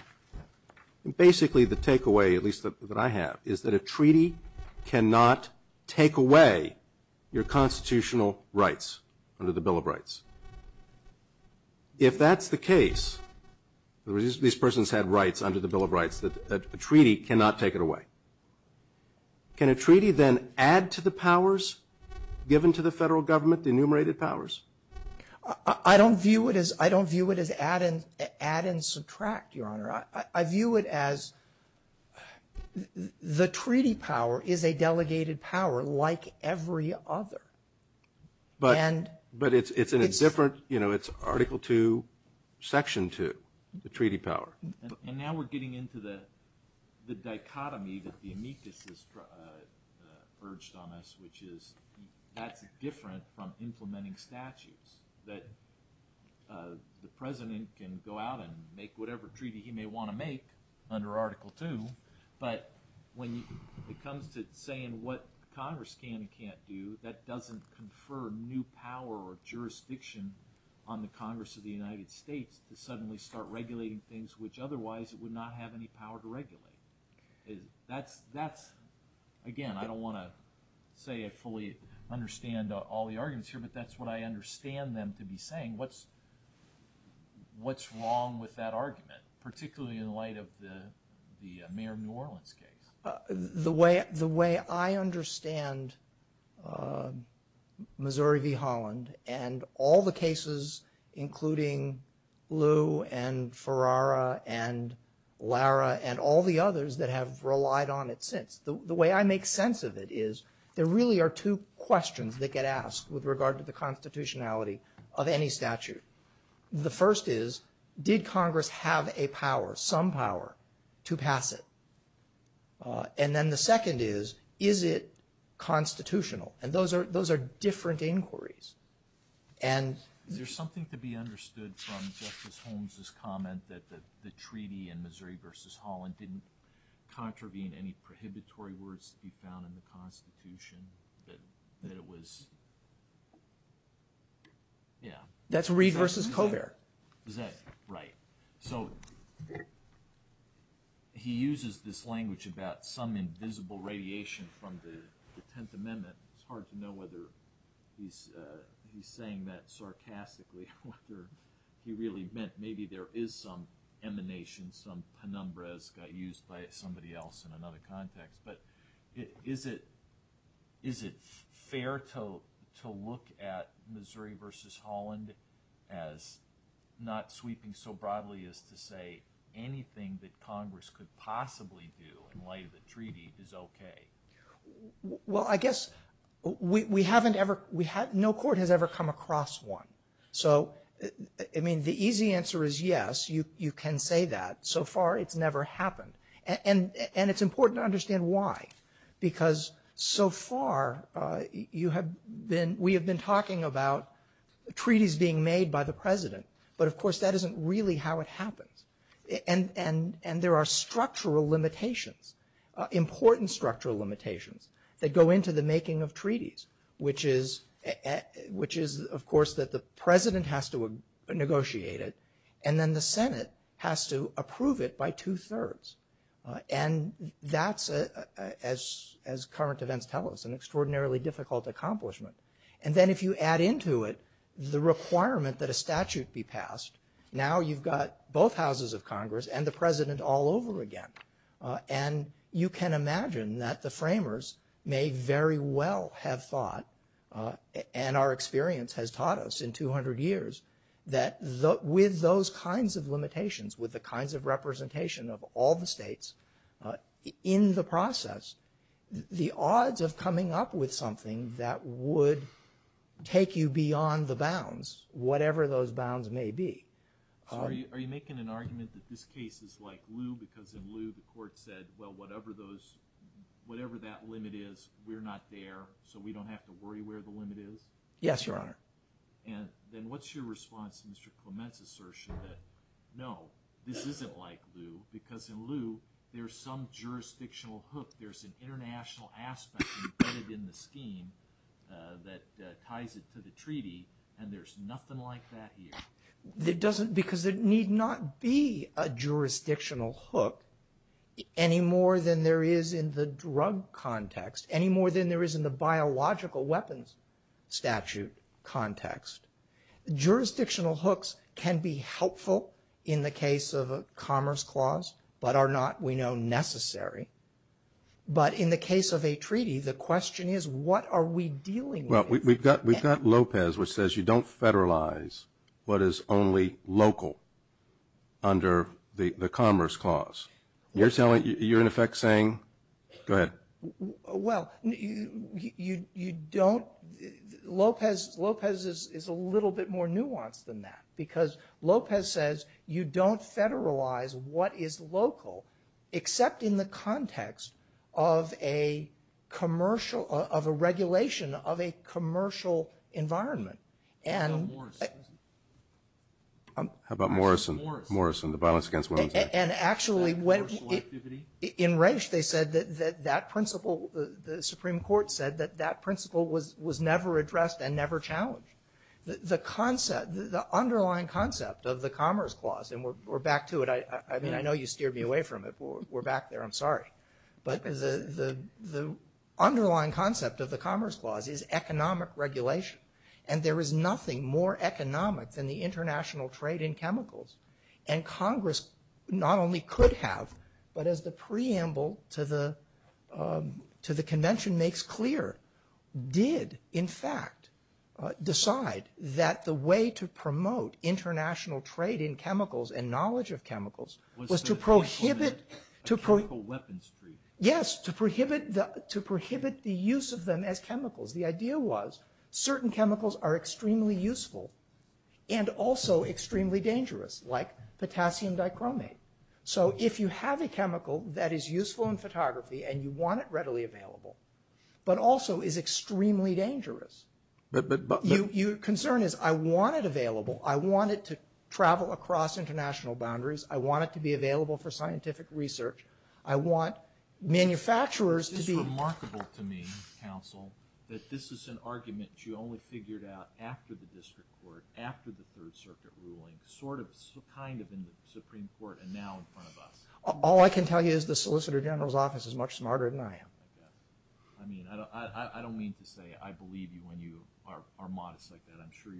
And basically, the takeaway, at least that I have, is that a treaty cannot take away your constitutional rights under the Bill of Rights. If that's the case, these persons had rights under the Bill of Rights, that a treaty cannot take it away. Can a treaty then add to the powers given to the federal government, the enumerated powers? I don't view it as add and subtract, Your Honor. I view it as the treaty power is a delegated power like every other. But it's in a different – you know, it's Article II, Section 2, the treaty power. And now we're getting into the dichotomy that the amicus has urged on us, which is that's different from implementing statutes. That the president can go out and make whatever treaty he may want to make under Article II, but when it comes to saying what Congress can and can't do, that doesn't confer new power or jurisdiction on the Congress of the United States to suddenly start regulating things which otherwise it would not have any power to regulate. That's – again, I don't want to say I fully understand all the arguments here, but that's what I understand them to be saying. What's wrong with that argument, particularly in light of the mayor of New Orleans case? The way I understand Missouri v. Holland and all the cases, including Lew and Ferrara and Lara and all the others that have relied on it since, the way I make sense of it is there really are two questions that get asked with regard to the constitutionality of any statute. The first is, did Congress have a power, some power, to pass it? And then the second is, is it constitutional? And those are different inquiries. There's something to be understood from Justice Holmes' comment that the treaty in Missouri v. Holland didn't contravene any prohibitory words he found in the constitution, that it was – yeah. Right. So he uses this language about some invisible radiation from the Tenth Amendment. It's hard to know whether he's saying that sarcastically or whether he really meant maybe there is some emanation, some penumbra that's got used by somebody else in another context. But is it fair to look at Missouri v. Holland as not sweeping so broadly as to say anything that Congress could possibly do in light of the treaty is okay? Well, I guess we haven't ever – no court has ever come across one. So, I mean, the easy answer is yes, you can say that. So far, it's never happened. And it's important to understand why, because so far you have been – we have been talking about treaties being made by the president, but of course that isn't really how it happens. And there are structural limitations, important structural limitations that go into the making of treaties, which is, of course, that the president has to negotiate it and then the Senate has to approve it by two-thirds. And that's, as current events tell us, an extraordinarily difficult accomplishment. And then if you add into it the requirement that a statute be passed, now you've got both houses of Congress and the president all over again. And you can imagine that the framers may very well have thought – and our experience has taught us in 200 years that with those kinds of limitations, with the kinds of representation of all the states in the process, the odds of coming up with something that would take you beyond the bounds, whatever those bounds may be – Are you making an argument that this case is like Lou because in Lou the court said, well, whatever that limit is, we're not there, so we don't have to worry where the limit is? Yes, Your Honor. And then what's your response to Mr. Clement's assertion that, no, this isn't like Lou because in Lou there's some jurisdictional hook. There's an international aspect embedded in the scheme that ties it to the treaty, and there's nothing like that here. Because there need not be a jurisdictional hook any more than there is in the drug context, any more than there is in the biological weapons statute context. Jurisdictional hooks can be helpful in the case of a commerce clause but are not, we know, necessary. But in the case of a treaty, the question is what are we dealing with? We've got Lopez which says you don't federalize what is only local under the commerce clause. You're in effect saying – go ahead. Well, you don't – Lopez is a little bit more nuanced than that because Lopez says you don't federalize what is local except in the context of a commercial – of a regulation of a commercial environment. How about Morrison? How about Morrison? Morrison. Morrison, the violence against women's rights. And actually when – in Reich they said that that principle, the Supreme Court said that that principle was never addressed and never challenged. The concept, the underlying concept of the commerce clause, and we're back to it. I mean, I know you steered me away from it. We're back there. I'm sorry. But the underlying concept of the commerce clause is economic regulation, and there is nothing more economic than the international trade in chemicals. And Congress not only could have, but as the preamble to the convention makes clear, did in fact decide that the way to promote international trade in chemicals and knowledge of chemicals was to prohibit – Was to prohibit chemical weapons. Yes, to prohibit the use of them as chemicals. The idea was certain chemicals are extremely useful and also extremely dangerous, like potassium dichromate. So if you have a chemical that is useful in photography and you want it readily available but also is extremely dangerous, your concern is I want it available. I want it to travel across international boundaries. I want it to be available for scientific research. This is remarkable to me, counsel, that this is an argument you only figured out after the district court, after the Third Circuit ruling, sort of, kind of in the Supreme Court and now in front of us. All I can tell you is the Solicitor General's office is much smarter than I am. I mean, I don't mean to say I believe you when you are modest like that. I'm sure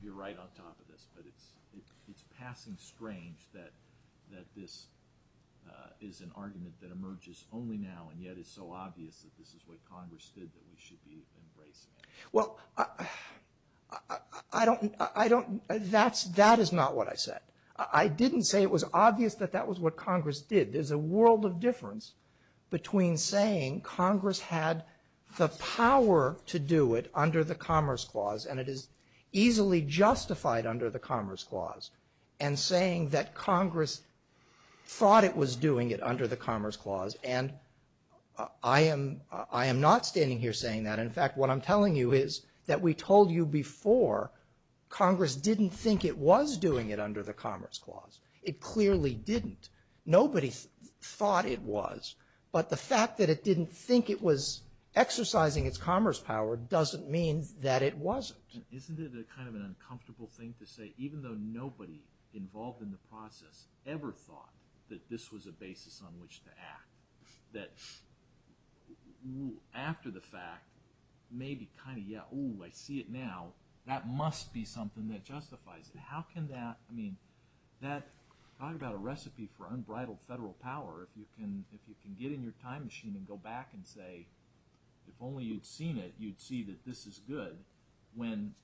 you're right on top of this. But it's passing strange that this is an argument that emerges only now and yet it's so obvious that this is what Congress did that we should be afraid. Well, I don't – that is not what I said. I didn't say it was obvious that that was what Congress did. There's a world of difference between saying Congress had the power to do it under the Commerce Clause and it is easily justified under the Commerce Clause and saying that Congress thought it was doing it under the Commerce Clause. And I am not standing here saying that. In fact, what I'm telling you is that we told you before Congress didn't think it was doing it under the Commerce Clause. It clearly didn't. Nobody thought it was, but the fact that it didn't think it was exercising its commerce power doesn't mean that it wasn't. Isn't it kind of an uncomfortable thing to say even though nobody involved in the process ever thought that this was a basis on which to act? After the fact, maybe kind of, yeah, ooh, I see it now. That must be something that justifies it. How can that – I mean that – talk about a recipe for unbridled federal power if you can get in your time machine and go back and say if only you'd seen it, you'd see that this is good when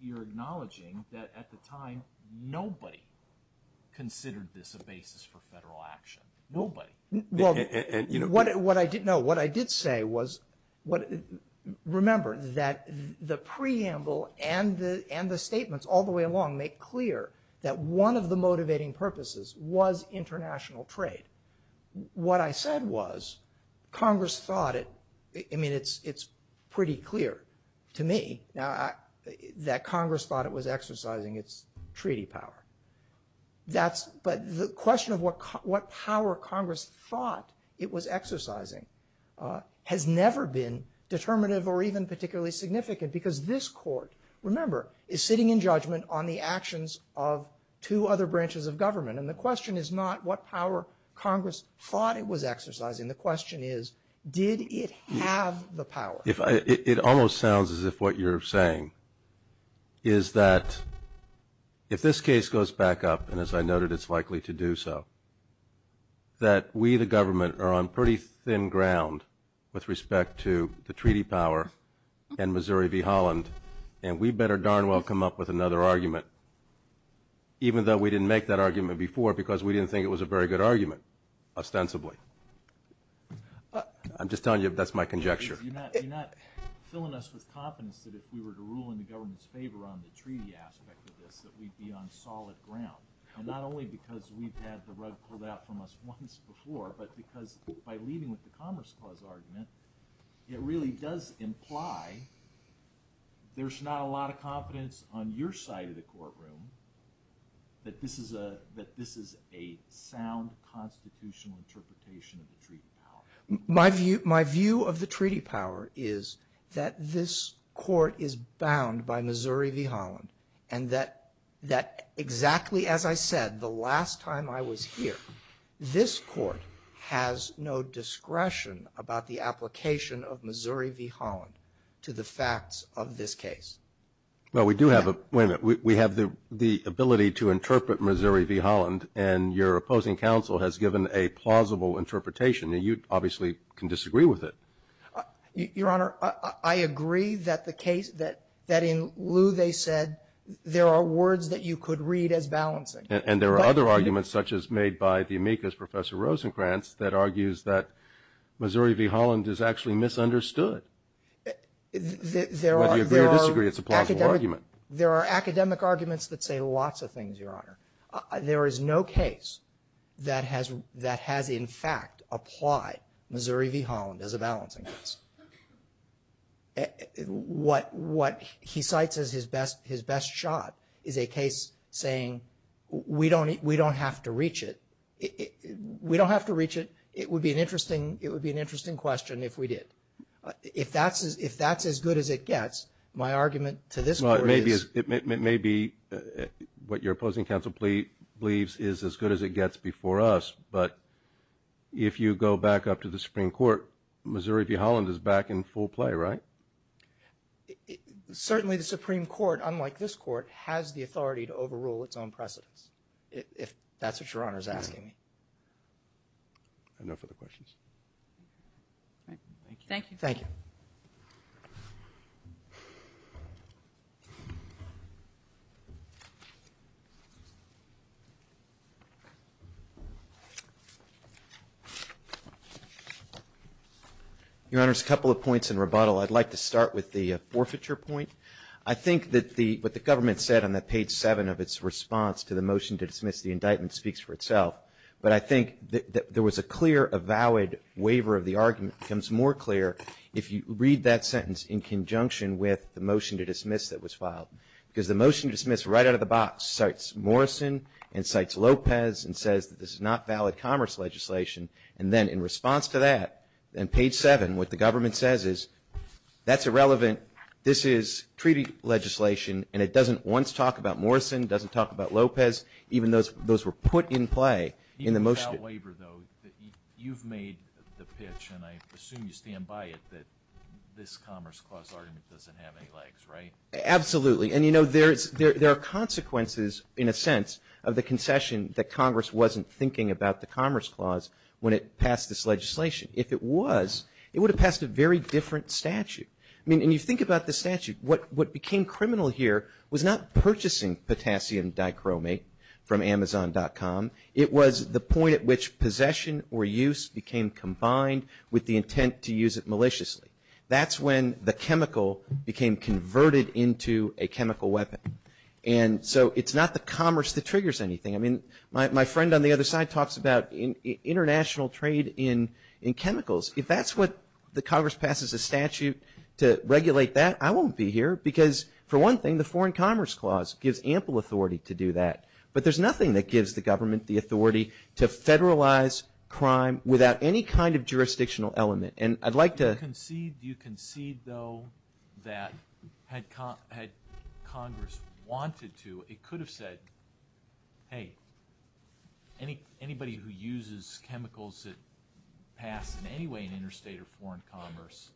you're acknowledging that at the time nobody considered this a basis for federal action. Nobody. No, what I did say was – remember that the preamble and the statements all the way along make clear that one of the motivating purposes was international trade. What I said was Congress thought it – I mean it's pretty clear to me that Congress thought it was exercising its treaty power. But the question of what power Congress thought it was exercising has never been determinative or even particularly significant because this court, remember, is sitting in judgment on the actions of two other branches of government. And the question is not what power Congress thought it was exercising. The question is did it have the power. It almost sounds as if what you're saying is that if this case goes back up, and as I noted it's likely to do so, that we the government are on pretty thin ground with respect to the treaty power and Missouri v. Holland, and we better darn well come up with another argument even though we didn't make that argument before because we didn't think it was a very good argument ostensibly. I'm just telling you that's my conjecture. You're not filling us with confidence that if we were to rule in the government's favor on the treaty aspect of this that we'd be on solid ground. And not only because we've had the rug pulled out from us once before, but because by leading with the Commerce Clause argument, it really does imply there's not a lot of confidence on your side of the courtroom that this is a sound constitutional interpretation of the treaty power. My conjecture is that this court is bound by Missouri v. Holland, and that exactly as I said the last time I was here, this court has no discretion about the application of Missouri v. Holland to the facts of this case. We have the ability to interpret Missouri v. Holland, and your opposing counsel has given a plausible interpretation, and you obviously can disagree with it. Your Honor, I agree that in lieu they said there are words that you could read as balancing. And there are other arguments such as made by the amicus Professor Rosencrantz that argues that Missouri v. Holland is actually misunderstood. There are academic arguments that say lots of things, Your Honor. There is no case that has in fact applied Missouri v. Holland as a balancing case. What he cites as his best shot is a case saying we don't have to reach it. We don't have to reach it. It would be an interesting question if we did. If that's as good as it gets, my argument to this court is – your opposing counsel believes is as good as it gets before us, but if you go back up to the Supreme Court, Missouri v. Holland is back in full play, right? Certainly the Supreme Court, unlike this court, has the authority to overrule its own precedents, if that's what Your Honor is asking. No further questions. Thank you. Thank you. Your Honor, there's a couple of points in rebuttal. I'd like to start with the forfeiture point. I think that what the government said on that page 7 of its response to the motion to dismiss the indictment speaks for itself. But I think there was a clear, a valid waiver of the argument becomes more clear if you read that sentence in conjunction with the motion to dismiss that was filed. Because the motion to dismiss right out of the box cites Morrison and cites Lopez and says that this is not valid commerce legislation. And then in response to that, on page 7, what the government says is that's irrelevant, this is treaty legislation, and it doesn't once talk about Morrison, doesn't talk about Lopez, even though those were put in play in the motion. You've made the pitch, and I assume you stand by it, that this Commerce Clause argument doesn't have any legs, right? Absolutely. And, you know, there are consequences, in a sense, of the concession that Congress wasn't thinking about the Commerce Clause when it passed this legislation. If it was, it would have passed a very different statute. I mean, when you think about the statute, what became criminal here was not purchasing potassium dichromate from Amazon.com. It was the point at which possession or use became combined with the intent to use it maliciously. That's when the chemical became converted into a chemical weapon. And so it's not the commerce that triggers anything. I mean, my friend on the other side talks about international trade in chemicals. If that's what the Congress passes a statute to regulate that, I won't be here because, for one thing, the Foreign Commerce Clause gives ample authority to do that. But there's nothing that gives the government the authority to federalize crime without any kind of jurisdictional element. And I'd like to – Do you concede, though, that had Congress wanted to, it could have said, hey, anybody who uses chemicals that pass in any way in interstate or foreign commerce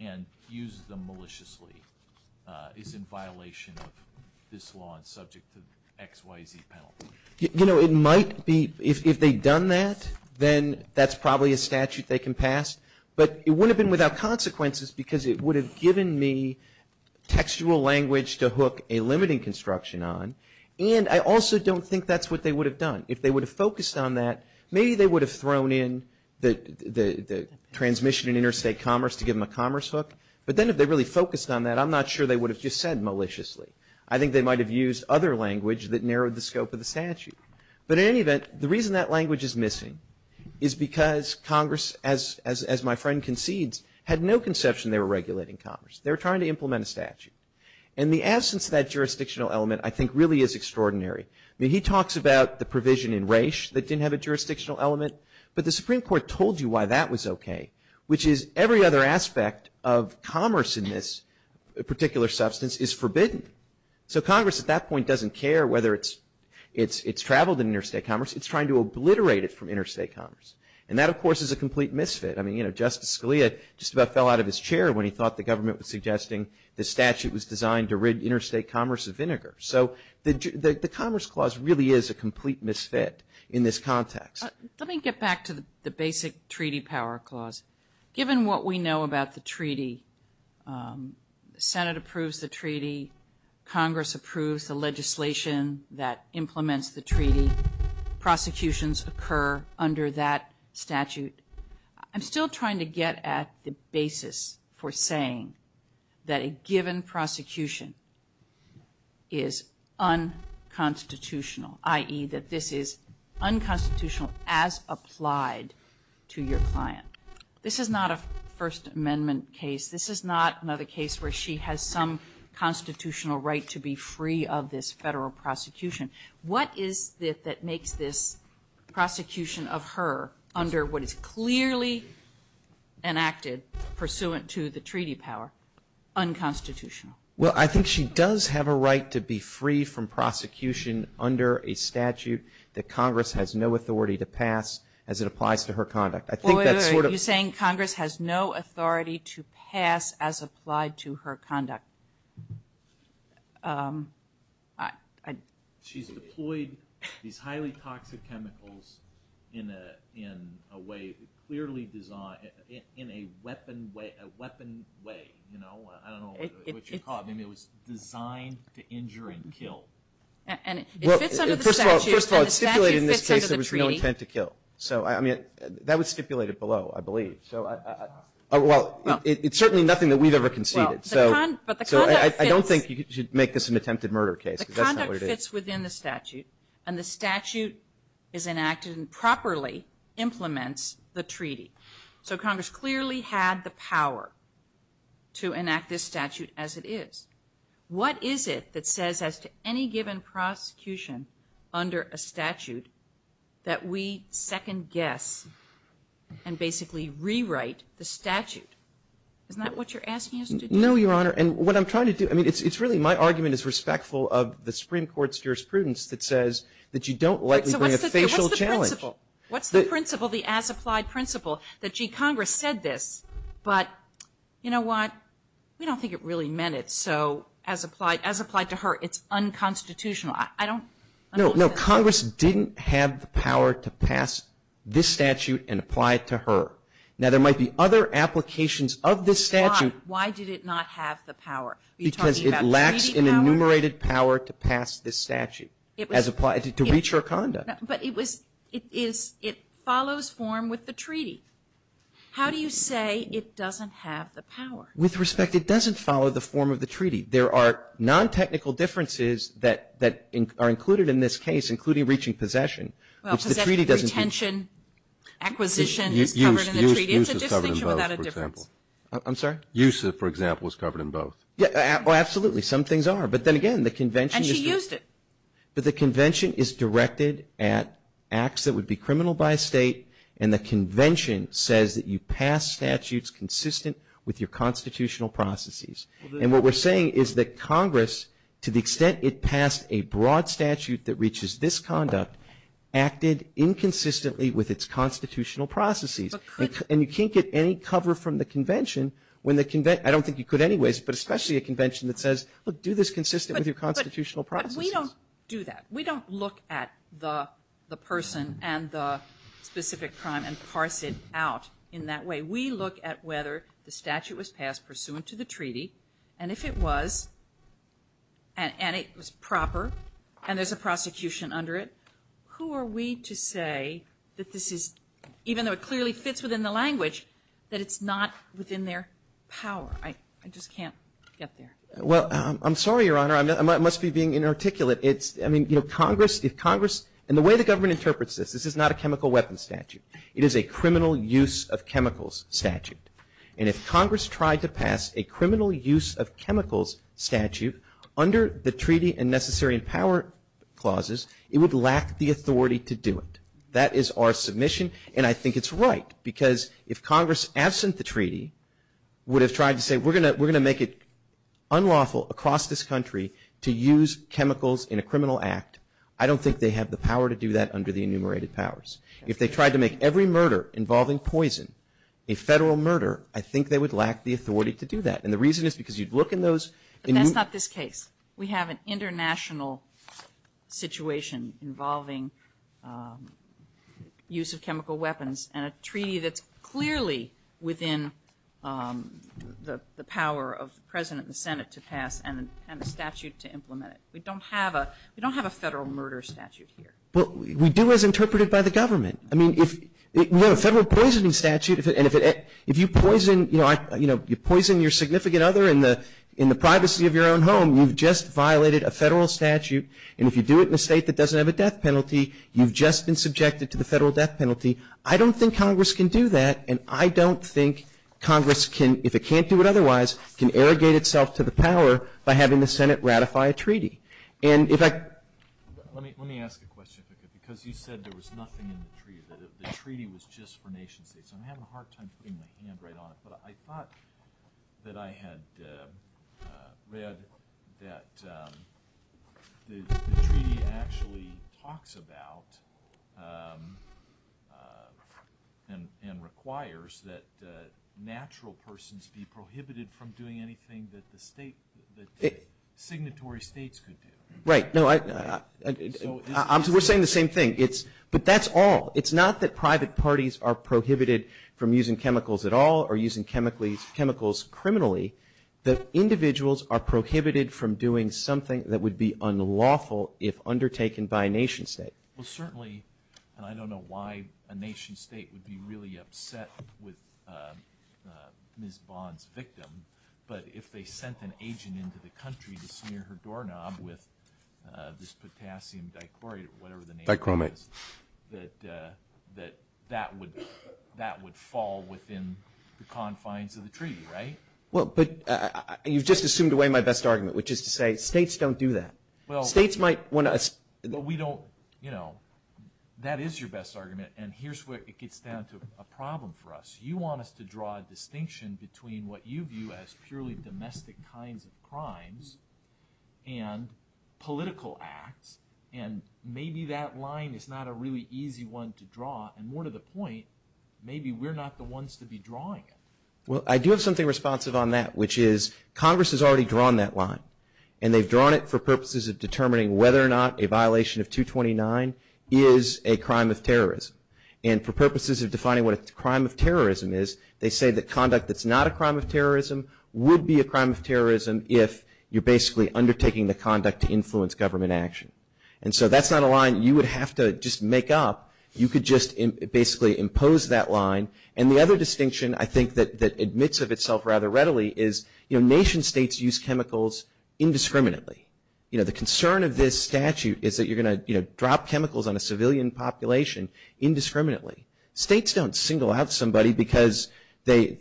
and uses them maliciously is in violation of this law and subject to the XYZ penalty? You know, it might be – if they'd done that, then that's probably a statute they can pass. But it wouldn't have been without consequences because it would have given me textual language to hook a limiting construction on. And I also don't think that's what they would have done. If they would have focused on that, maybe they would have thrown in the transmission in interstate commerce to give them a commerce hook. But then if they really focused on that, I'm not sure they would have just said maliciously. I think they might have used other language that narrowed the scope of the statute. But in any event, the reason that language is missing is because Congress, as my friend concedes, had no conception they were regulating commerce. They were trying to implement a statute. And the absence of that jurisdictional element, I think, really is extraordinary. I mean, he talks about the provision in Raich that didn't have a jurisdictional element, but the Supreme Court told you why that was okay, which is every other aspect of commerce in this particular substance is forbidden. So Congress at that point doesn't care whether it's traveled in interstate commerce. It's trying to obliterate it from interstate commerce. And that, of course, is a complete misfit. I mean, you know, Justice Scalia just about fell out of his chair when he thought the government was suggesting the statute was designed to rid interstate commerce of vinegar. So the Commerce Clause really is a complete misfit in this context. Let me get back to the basic treaty power clause. Given what we know about the treaty, Senate approves the treaty, Congress approves the legislation that implements the treaty, prosecutions occur under that statute. I'm still trying to get at the basis for saying that a given prosecution is unconstitutional, i.e., that this is unconstitutional as applied to your client. This is not a First Amendment case. This is not another case where she has some constitutional right to be free of this federal prosecution. What is it that makes this prosecution of her under what is clearly enacted pursuant to the treaty power unconstitutional? Well, I think she does have a right to be free from prosecution under a statute that Congress has no authority to pass as it applies to her conduct. Or are you saying Congress has no authority to pass as applied to her conduct? She's deployed these highly toxic chemicals in a way clearly designed – in a weapon way. I don't know what you call it. I mean, it was designed to injure and kill. Well, first of all, it's stipulated in this case that it was really intended to kill. So, I mean, that was stipulated below, I believe. So, well, it's certainly nothing that we've ever conceded. So, I don't think you should make this an attempted murder case. The conduct fits within the statute and the statute is enacted and properly implements the treaty. So, Congress clearly had the power to enact this statute as it is. What is it that says as to any given prosecution under a statute that we second guess and basically rewrite the statute? Is that what you're asking us to do? No, Your Honor. And what I'm trying to do – I mean, it's really my argument is respectful of the Supreme Court's jurisprudence that says that you don't let them bring a facial challenge. What's the principle? What's the principle, the as-applied principle that, gee, Congress said this, but you know what? I don't think it really meant it. So, as applied to her, it's unconstitutional. No, Congress didn't have the power to pass this statute and apply it to her. Now, there might be other applications of this statute. Why did it not have the power? Because it lacks an enumerated power to pass this statute as applied to reach her conduct. But it follows form with the treaty. How do you say it doesn't have the power? With respect, it doesn't follow the form of the treaty. There are non-technical differences that are included in this case, including reaching possession. Well, possession, retention, acquisition is covered in the treaty. Use is covered in both, for example. I'm sorry? Use, for example, is covered in both. Well, absolutely. Some things are. But then again, the convention is – And she used it. But the convention is directed at acts that would be criminal by a state, and the convention says that you pass statutes consistent with your constitutional processes. And what we're saying is that Congress, to the extent it passed a broad statute that reaches this conduct, acted inconsistently with its constitutional processes. And you can't get any cover from the convention when the – I don't think you could anyways, but especially a convention that says, look, do this consistent with your constitutional processes. But we don't do that. We don't look at the person and the specific crime and parse it out in that way. We look at whether the statute was passed pursuant to the treaty, and if it was, and it was proper, and there's a prosecution under it, who are we to say that this is – even though it clearly fits within the language, that it's not within their power? I just can't get there. Well, I'm sorry, Your Honor. I must be being inarticulate. I mean, if Congress – and the way the government interprets this, this is not a chemical weapons statute. It is a criminal use of chemicals statute. And if Congress tried to pass a criminal use of chemicals statute under the treaty and necessary power clauses, it would lack the authority to do it. That is our submission, and I think it's right, because if Congress, absent the treaty, would have tried to say, we're going to make it unlawful across this country to use chemicals in a criminal act, I don't think they have the power to do that under the enumerated powers. If they tried to make every murder involving poison a federal murder, I think they would lack the authority to do that. And the reason is because you'd look in those – But that's not this case. We have an international situation involving use of chemical weapons and a treaty that's clearly within the power of the President and the Senate to pass and the statute to implement it. We don't have a – we don't have a federal murder statute here. But we do as interpreted by the government. I mean, if – you know, a federal poisoning statute, and if you poison – you know, you poison your significant other in the privacy of your own home, you've just violated a federal statute. And if you do it in a state that doesn't have a death penalty, you've just been subjected to the federal death penalty. I don't think Congress can do that, and I don't think Congress can – if it can't do it otherwise, can arrogate itself to the power by having the Senate ratify a treaty. And if I – Let me ask a question because you said there was nothing in the treaty. The treaty was just for nation states. I'm having a hard time putting my hand right on it. I thought that I had read that the treaty actually talks about and requires that natural persons be prohibited from doing anything that the state – that signatory states could do. Right. No, I – we're saying the same thing. It's – but that's all. It's not that private parties are prohibited from using chemicals at all or using chemicals criminally. The individuals are prohibited from doing something that would be unlawful if undertaken by a nation state. Well, certainly, and I don't know why a nation state would be really upset with Ms. Bond's victim, but if they sent an agent into the country to smear her doorknob with this potassium dichlorate, whatever the name is, that that would fall within the confines of the treaty, right? Well, but you've just assumed away my best argument, which is to say states don't do that. States might want to – Well, we don't – you know, that is your best argument, and here's where it gets down to a problem for us. You want us to draw a distinction between what you view as purely domestic kinds of crimes and political acts, and maybe that line is not a really easy one to draw. And more to the point, maybe we're not the ones to be drawing it. Well, I do have something responsive on that, which is Congress has already drawn that line, and they've drawn it for purposes of determining whether or not a violation of 229 is a crime of terrorism. And for purposes of defining what a crime of terrorism is, they say that conduct that's not a crime of terrorism would be a crime of terrorism if you're basically undertaking the conduct to influence government action. And so that's not a line you would have to just make up. You could just basically impose that line. And the other distinction I think that admits of itself rather readily is, you know, nation states use chemicals indiscriminately. You know, the concern of this statute is that you're going to, you know, drop chemicals on a civilian population indiscriminately. States don't single out somebody because they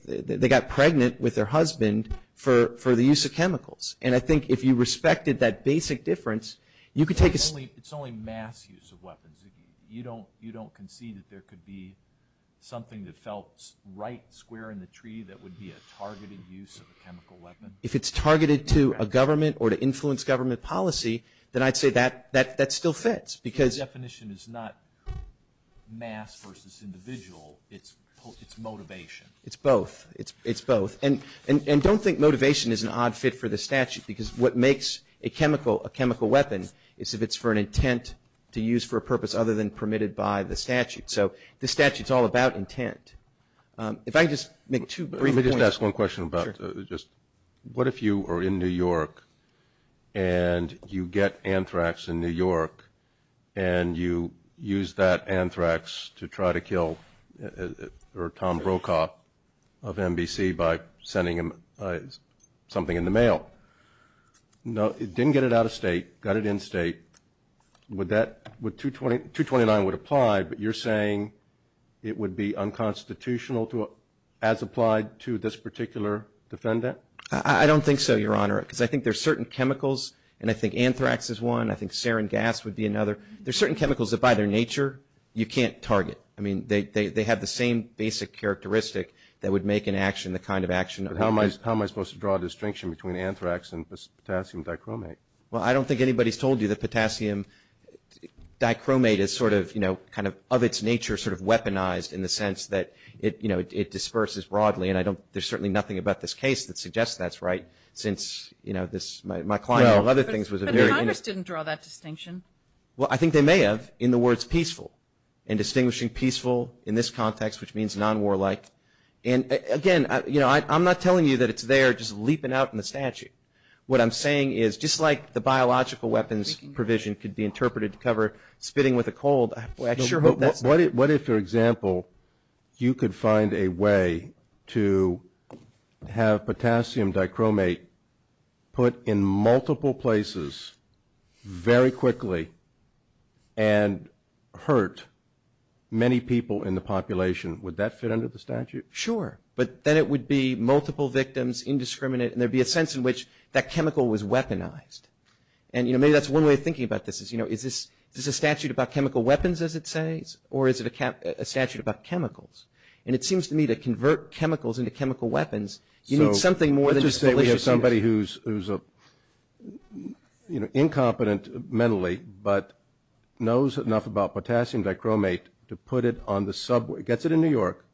got pregnant with their husband for the use of chemicals. And I think if you respected that basic difference, you could take a... It's only mass use of weapons. You don't concede that there could be something that felt right square in the tree that would be a targeted use of a chemical weapon. If it's targeted to a government or to influence government policy, then I'd say that still fits because... It's motivation. It's both. It's both. And don't think motivation is an odd fit for the statute because what makes a chemical a chemical weapon is if it's for an intent to use for a purpose other than permitted by the statute. So the statute's all about intent. If I could just make two brief... Let me just ask one question about just what if you are in New York and you get anthrax in New York and you use that anthrax to try to kill Tom Brokaw of NBC by sending him something in the mail. Didn't get it out of state, got it in state. Would that... 229 would apply, but you're saying it would be unconstitutional as applied to this particular defendant? I don't think so, Your Honor, because I think there's certain chemicals, and I think anthrax is one. I think sarin gas would be another. There's certain chemicals that by their nature you can't target. I mean, they have the same basic characteristic that would make an action the kind of action... But how am I supposed to draw a distinction between anthrax and potassium dichromate? Well, I don't think anybody's told you that potassium dichromate is sort of, you know, kind of of its nature sort of weaponized in the sense that, you know, it disperses broadly, and there's certainly nothing about this case that suggests that's right since, you know, this... Well, other things was a very... But the authors didn't draw that distinction. Well, I think they may have in the words peaceful and distinguishing peaceful in this context, which means non-warlike. And, again, you know, I'm not telling you that it's there just leaping out from the statue. What I'm saying is just like the biological weapons provision could be interpreted to cover spitting with a cold, What if, for example, you could find a way to have potassium dichromate put in multiple places very quickly and hurt many people in the population? Would that fit under the statute? Sure, but then it would be multiple victims, indiscriminate, and there'd be a sense in which that chemical was weaponized. And, you know, maybe that's one way of thinking about this is, you know, is this a statute about chemical weapons, as it says, or is it a statute about chemicals? And it seems to me that to convert chemicals into chemical weapons, you need something more than... So let's just say we have somebody who's, you know, incompetent mentally, but knows enough about potassium dichromate to put it on the subway, gets it in New York,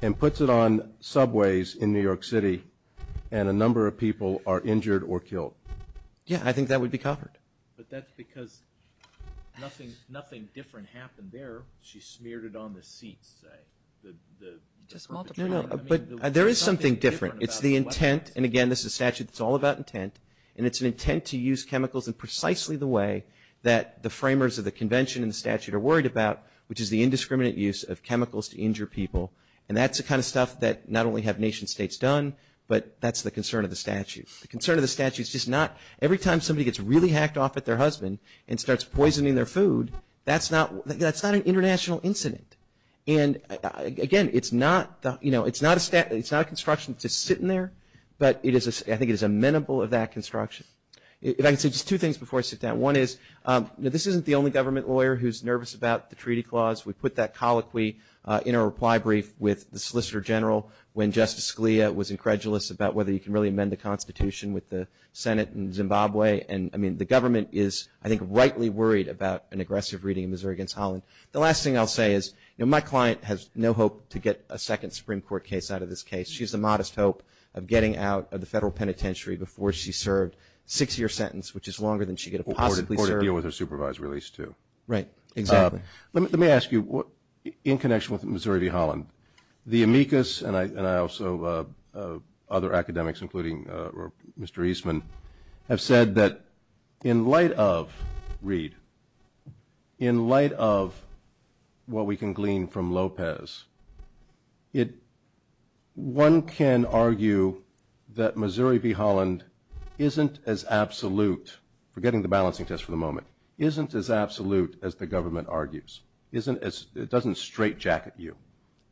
and puts it on subways in New York City, and a number of people are injured or killed. Yeah, I think that would be covered. But that's because nothing different happened there. She smeared it on the seat. No, no, but there is something different. It's the intent, and again, this is a statute that's all about intent, and it's an intent to use chemicals in precisely the way that the framers of the convention and statute are worried about, which is the indiscriminate use of chemicals to injure people. And that's the kind of stuff that not only have nation states done, but that's the concern of the statute. The concern of the statute is just not... Every time somebody gets really hacked off at their husband and starts poisoning their food, that's not an international incident. And again, it's not a construction that's sitting there, but I think it is amenable of that construction. And I can say just two things before I sit down. One is, this isn't the only government lawyer who's nervous about the treaty clause. We put that colloquy in a reply brief with the Solicitor General when Justice Scalia was incredulous about whether he can really amend the Constitution with the Senate in Zimbabwe. And, I mean, the government is, I think, rightly worried about an aggressive reading of Missouri v. Holland. The last thing I'll say is, you know, my client has no hope to get a second Supreme Court case out of this case. She has the modest hope of getting out of the federal penitentiary before she's served. Six-year sentence, which is longer than she could possibly serve. Or to deal with her supervisor, at least, too. Let me ask you, in connection with Missouri v. Holland, the amicus and I also, other academics, including Mr. Eastman, have said that in light of, read, in light of what we can glean from Lopez, one can argue that Missouri v. Holland isn't as absolute, forgetting the balancing test for the moment, isn't as absolute as the government argues. It doesn't straitjacket you.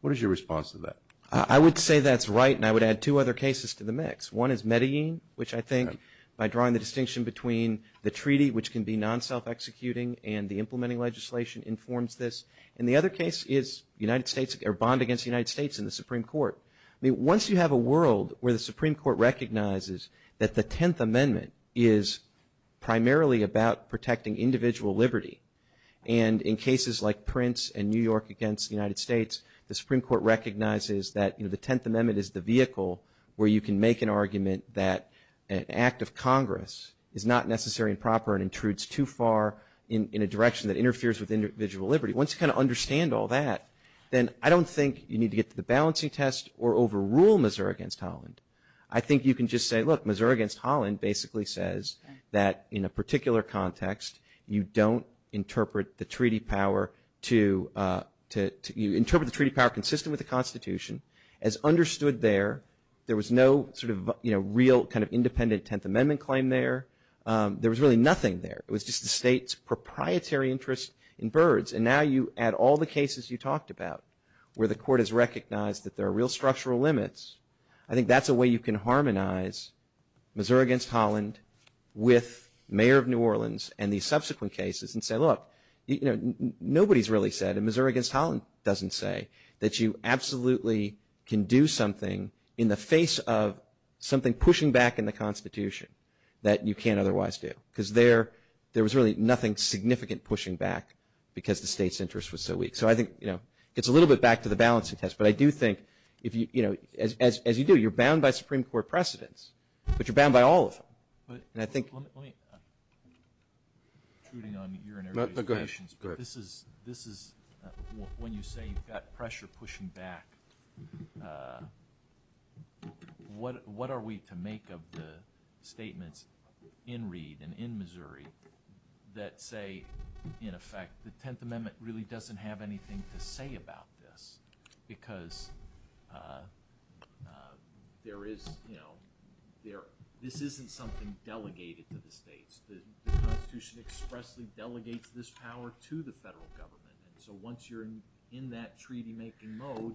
What is your response to that? I would say that's right, and I would add two other cases to the mix. One is Medellin, which I think, by drawing the distinction between the treaty, which can be non-self-executing and the implementing legislation, informs this. And the other case is the United States, or bond against the United States in the Supreme Court. I mean, once you have a world where the Supreme Court recognizes that the Tenth Amendment is primarily about protecting individual liberty, and in cases like Prince and New York against the United States, the Supreme Court recognizes that the Tenth Amendment is the vehicle where you can make an argument that an act of Congress is not necessary and proper and intrudes too far in a direction that interferes with individual liberty. Once you kind of understand all that, then I don't think you need to get to the balancing test or overrule Missouri v. Holland. I think you can just say, look, Missouri v. Holland basically says that, in a particular context, you don't interpret the treaty power to – you interpret the treaty power consistent with the Constitution. As understood there, there was no sort of real kind of independent Tenth Amendment claim there. There was really nothing there. It was just the state's proprietary interest in birds. And now you add all the cases you talked about where the court has recognized that there are real structural limits. I think that's a way you can harmonize Missouri v. Holland with Mayor of New Orleans and the subsequent cases and say, look, nobody's really said, and Missouri v. Holland doesn't say that you absolutely can do something in the face of something pushing back in the Constitution that you can't otherwise do because there was really nothing significant pushing back because the state's interest was so weak. So I think it's a little bit back to the balancing test, but I do think if you – as you do, you're bound by Supreme Court precedents, but you're bound by all of them. And I think – Let me – I'm intruding on your negotiations, but this is – when you say you've got pressure pushing back, what are we to make of the statements in Reed and in Missouri that say, in effect, the Tenth Amendment really doesn't have anything to say about this because there is – this isn't something delegated to the states. The Constitution expressly delegates this power to the federal government. So once you're in that treaty-making mode,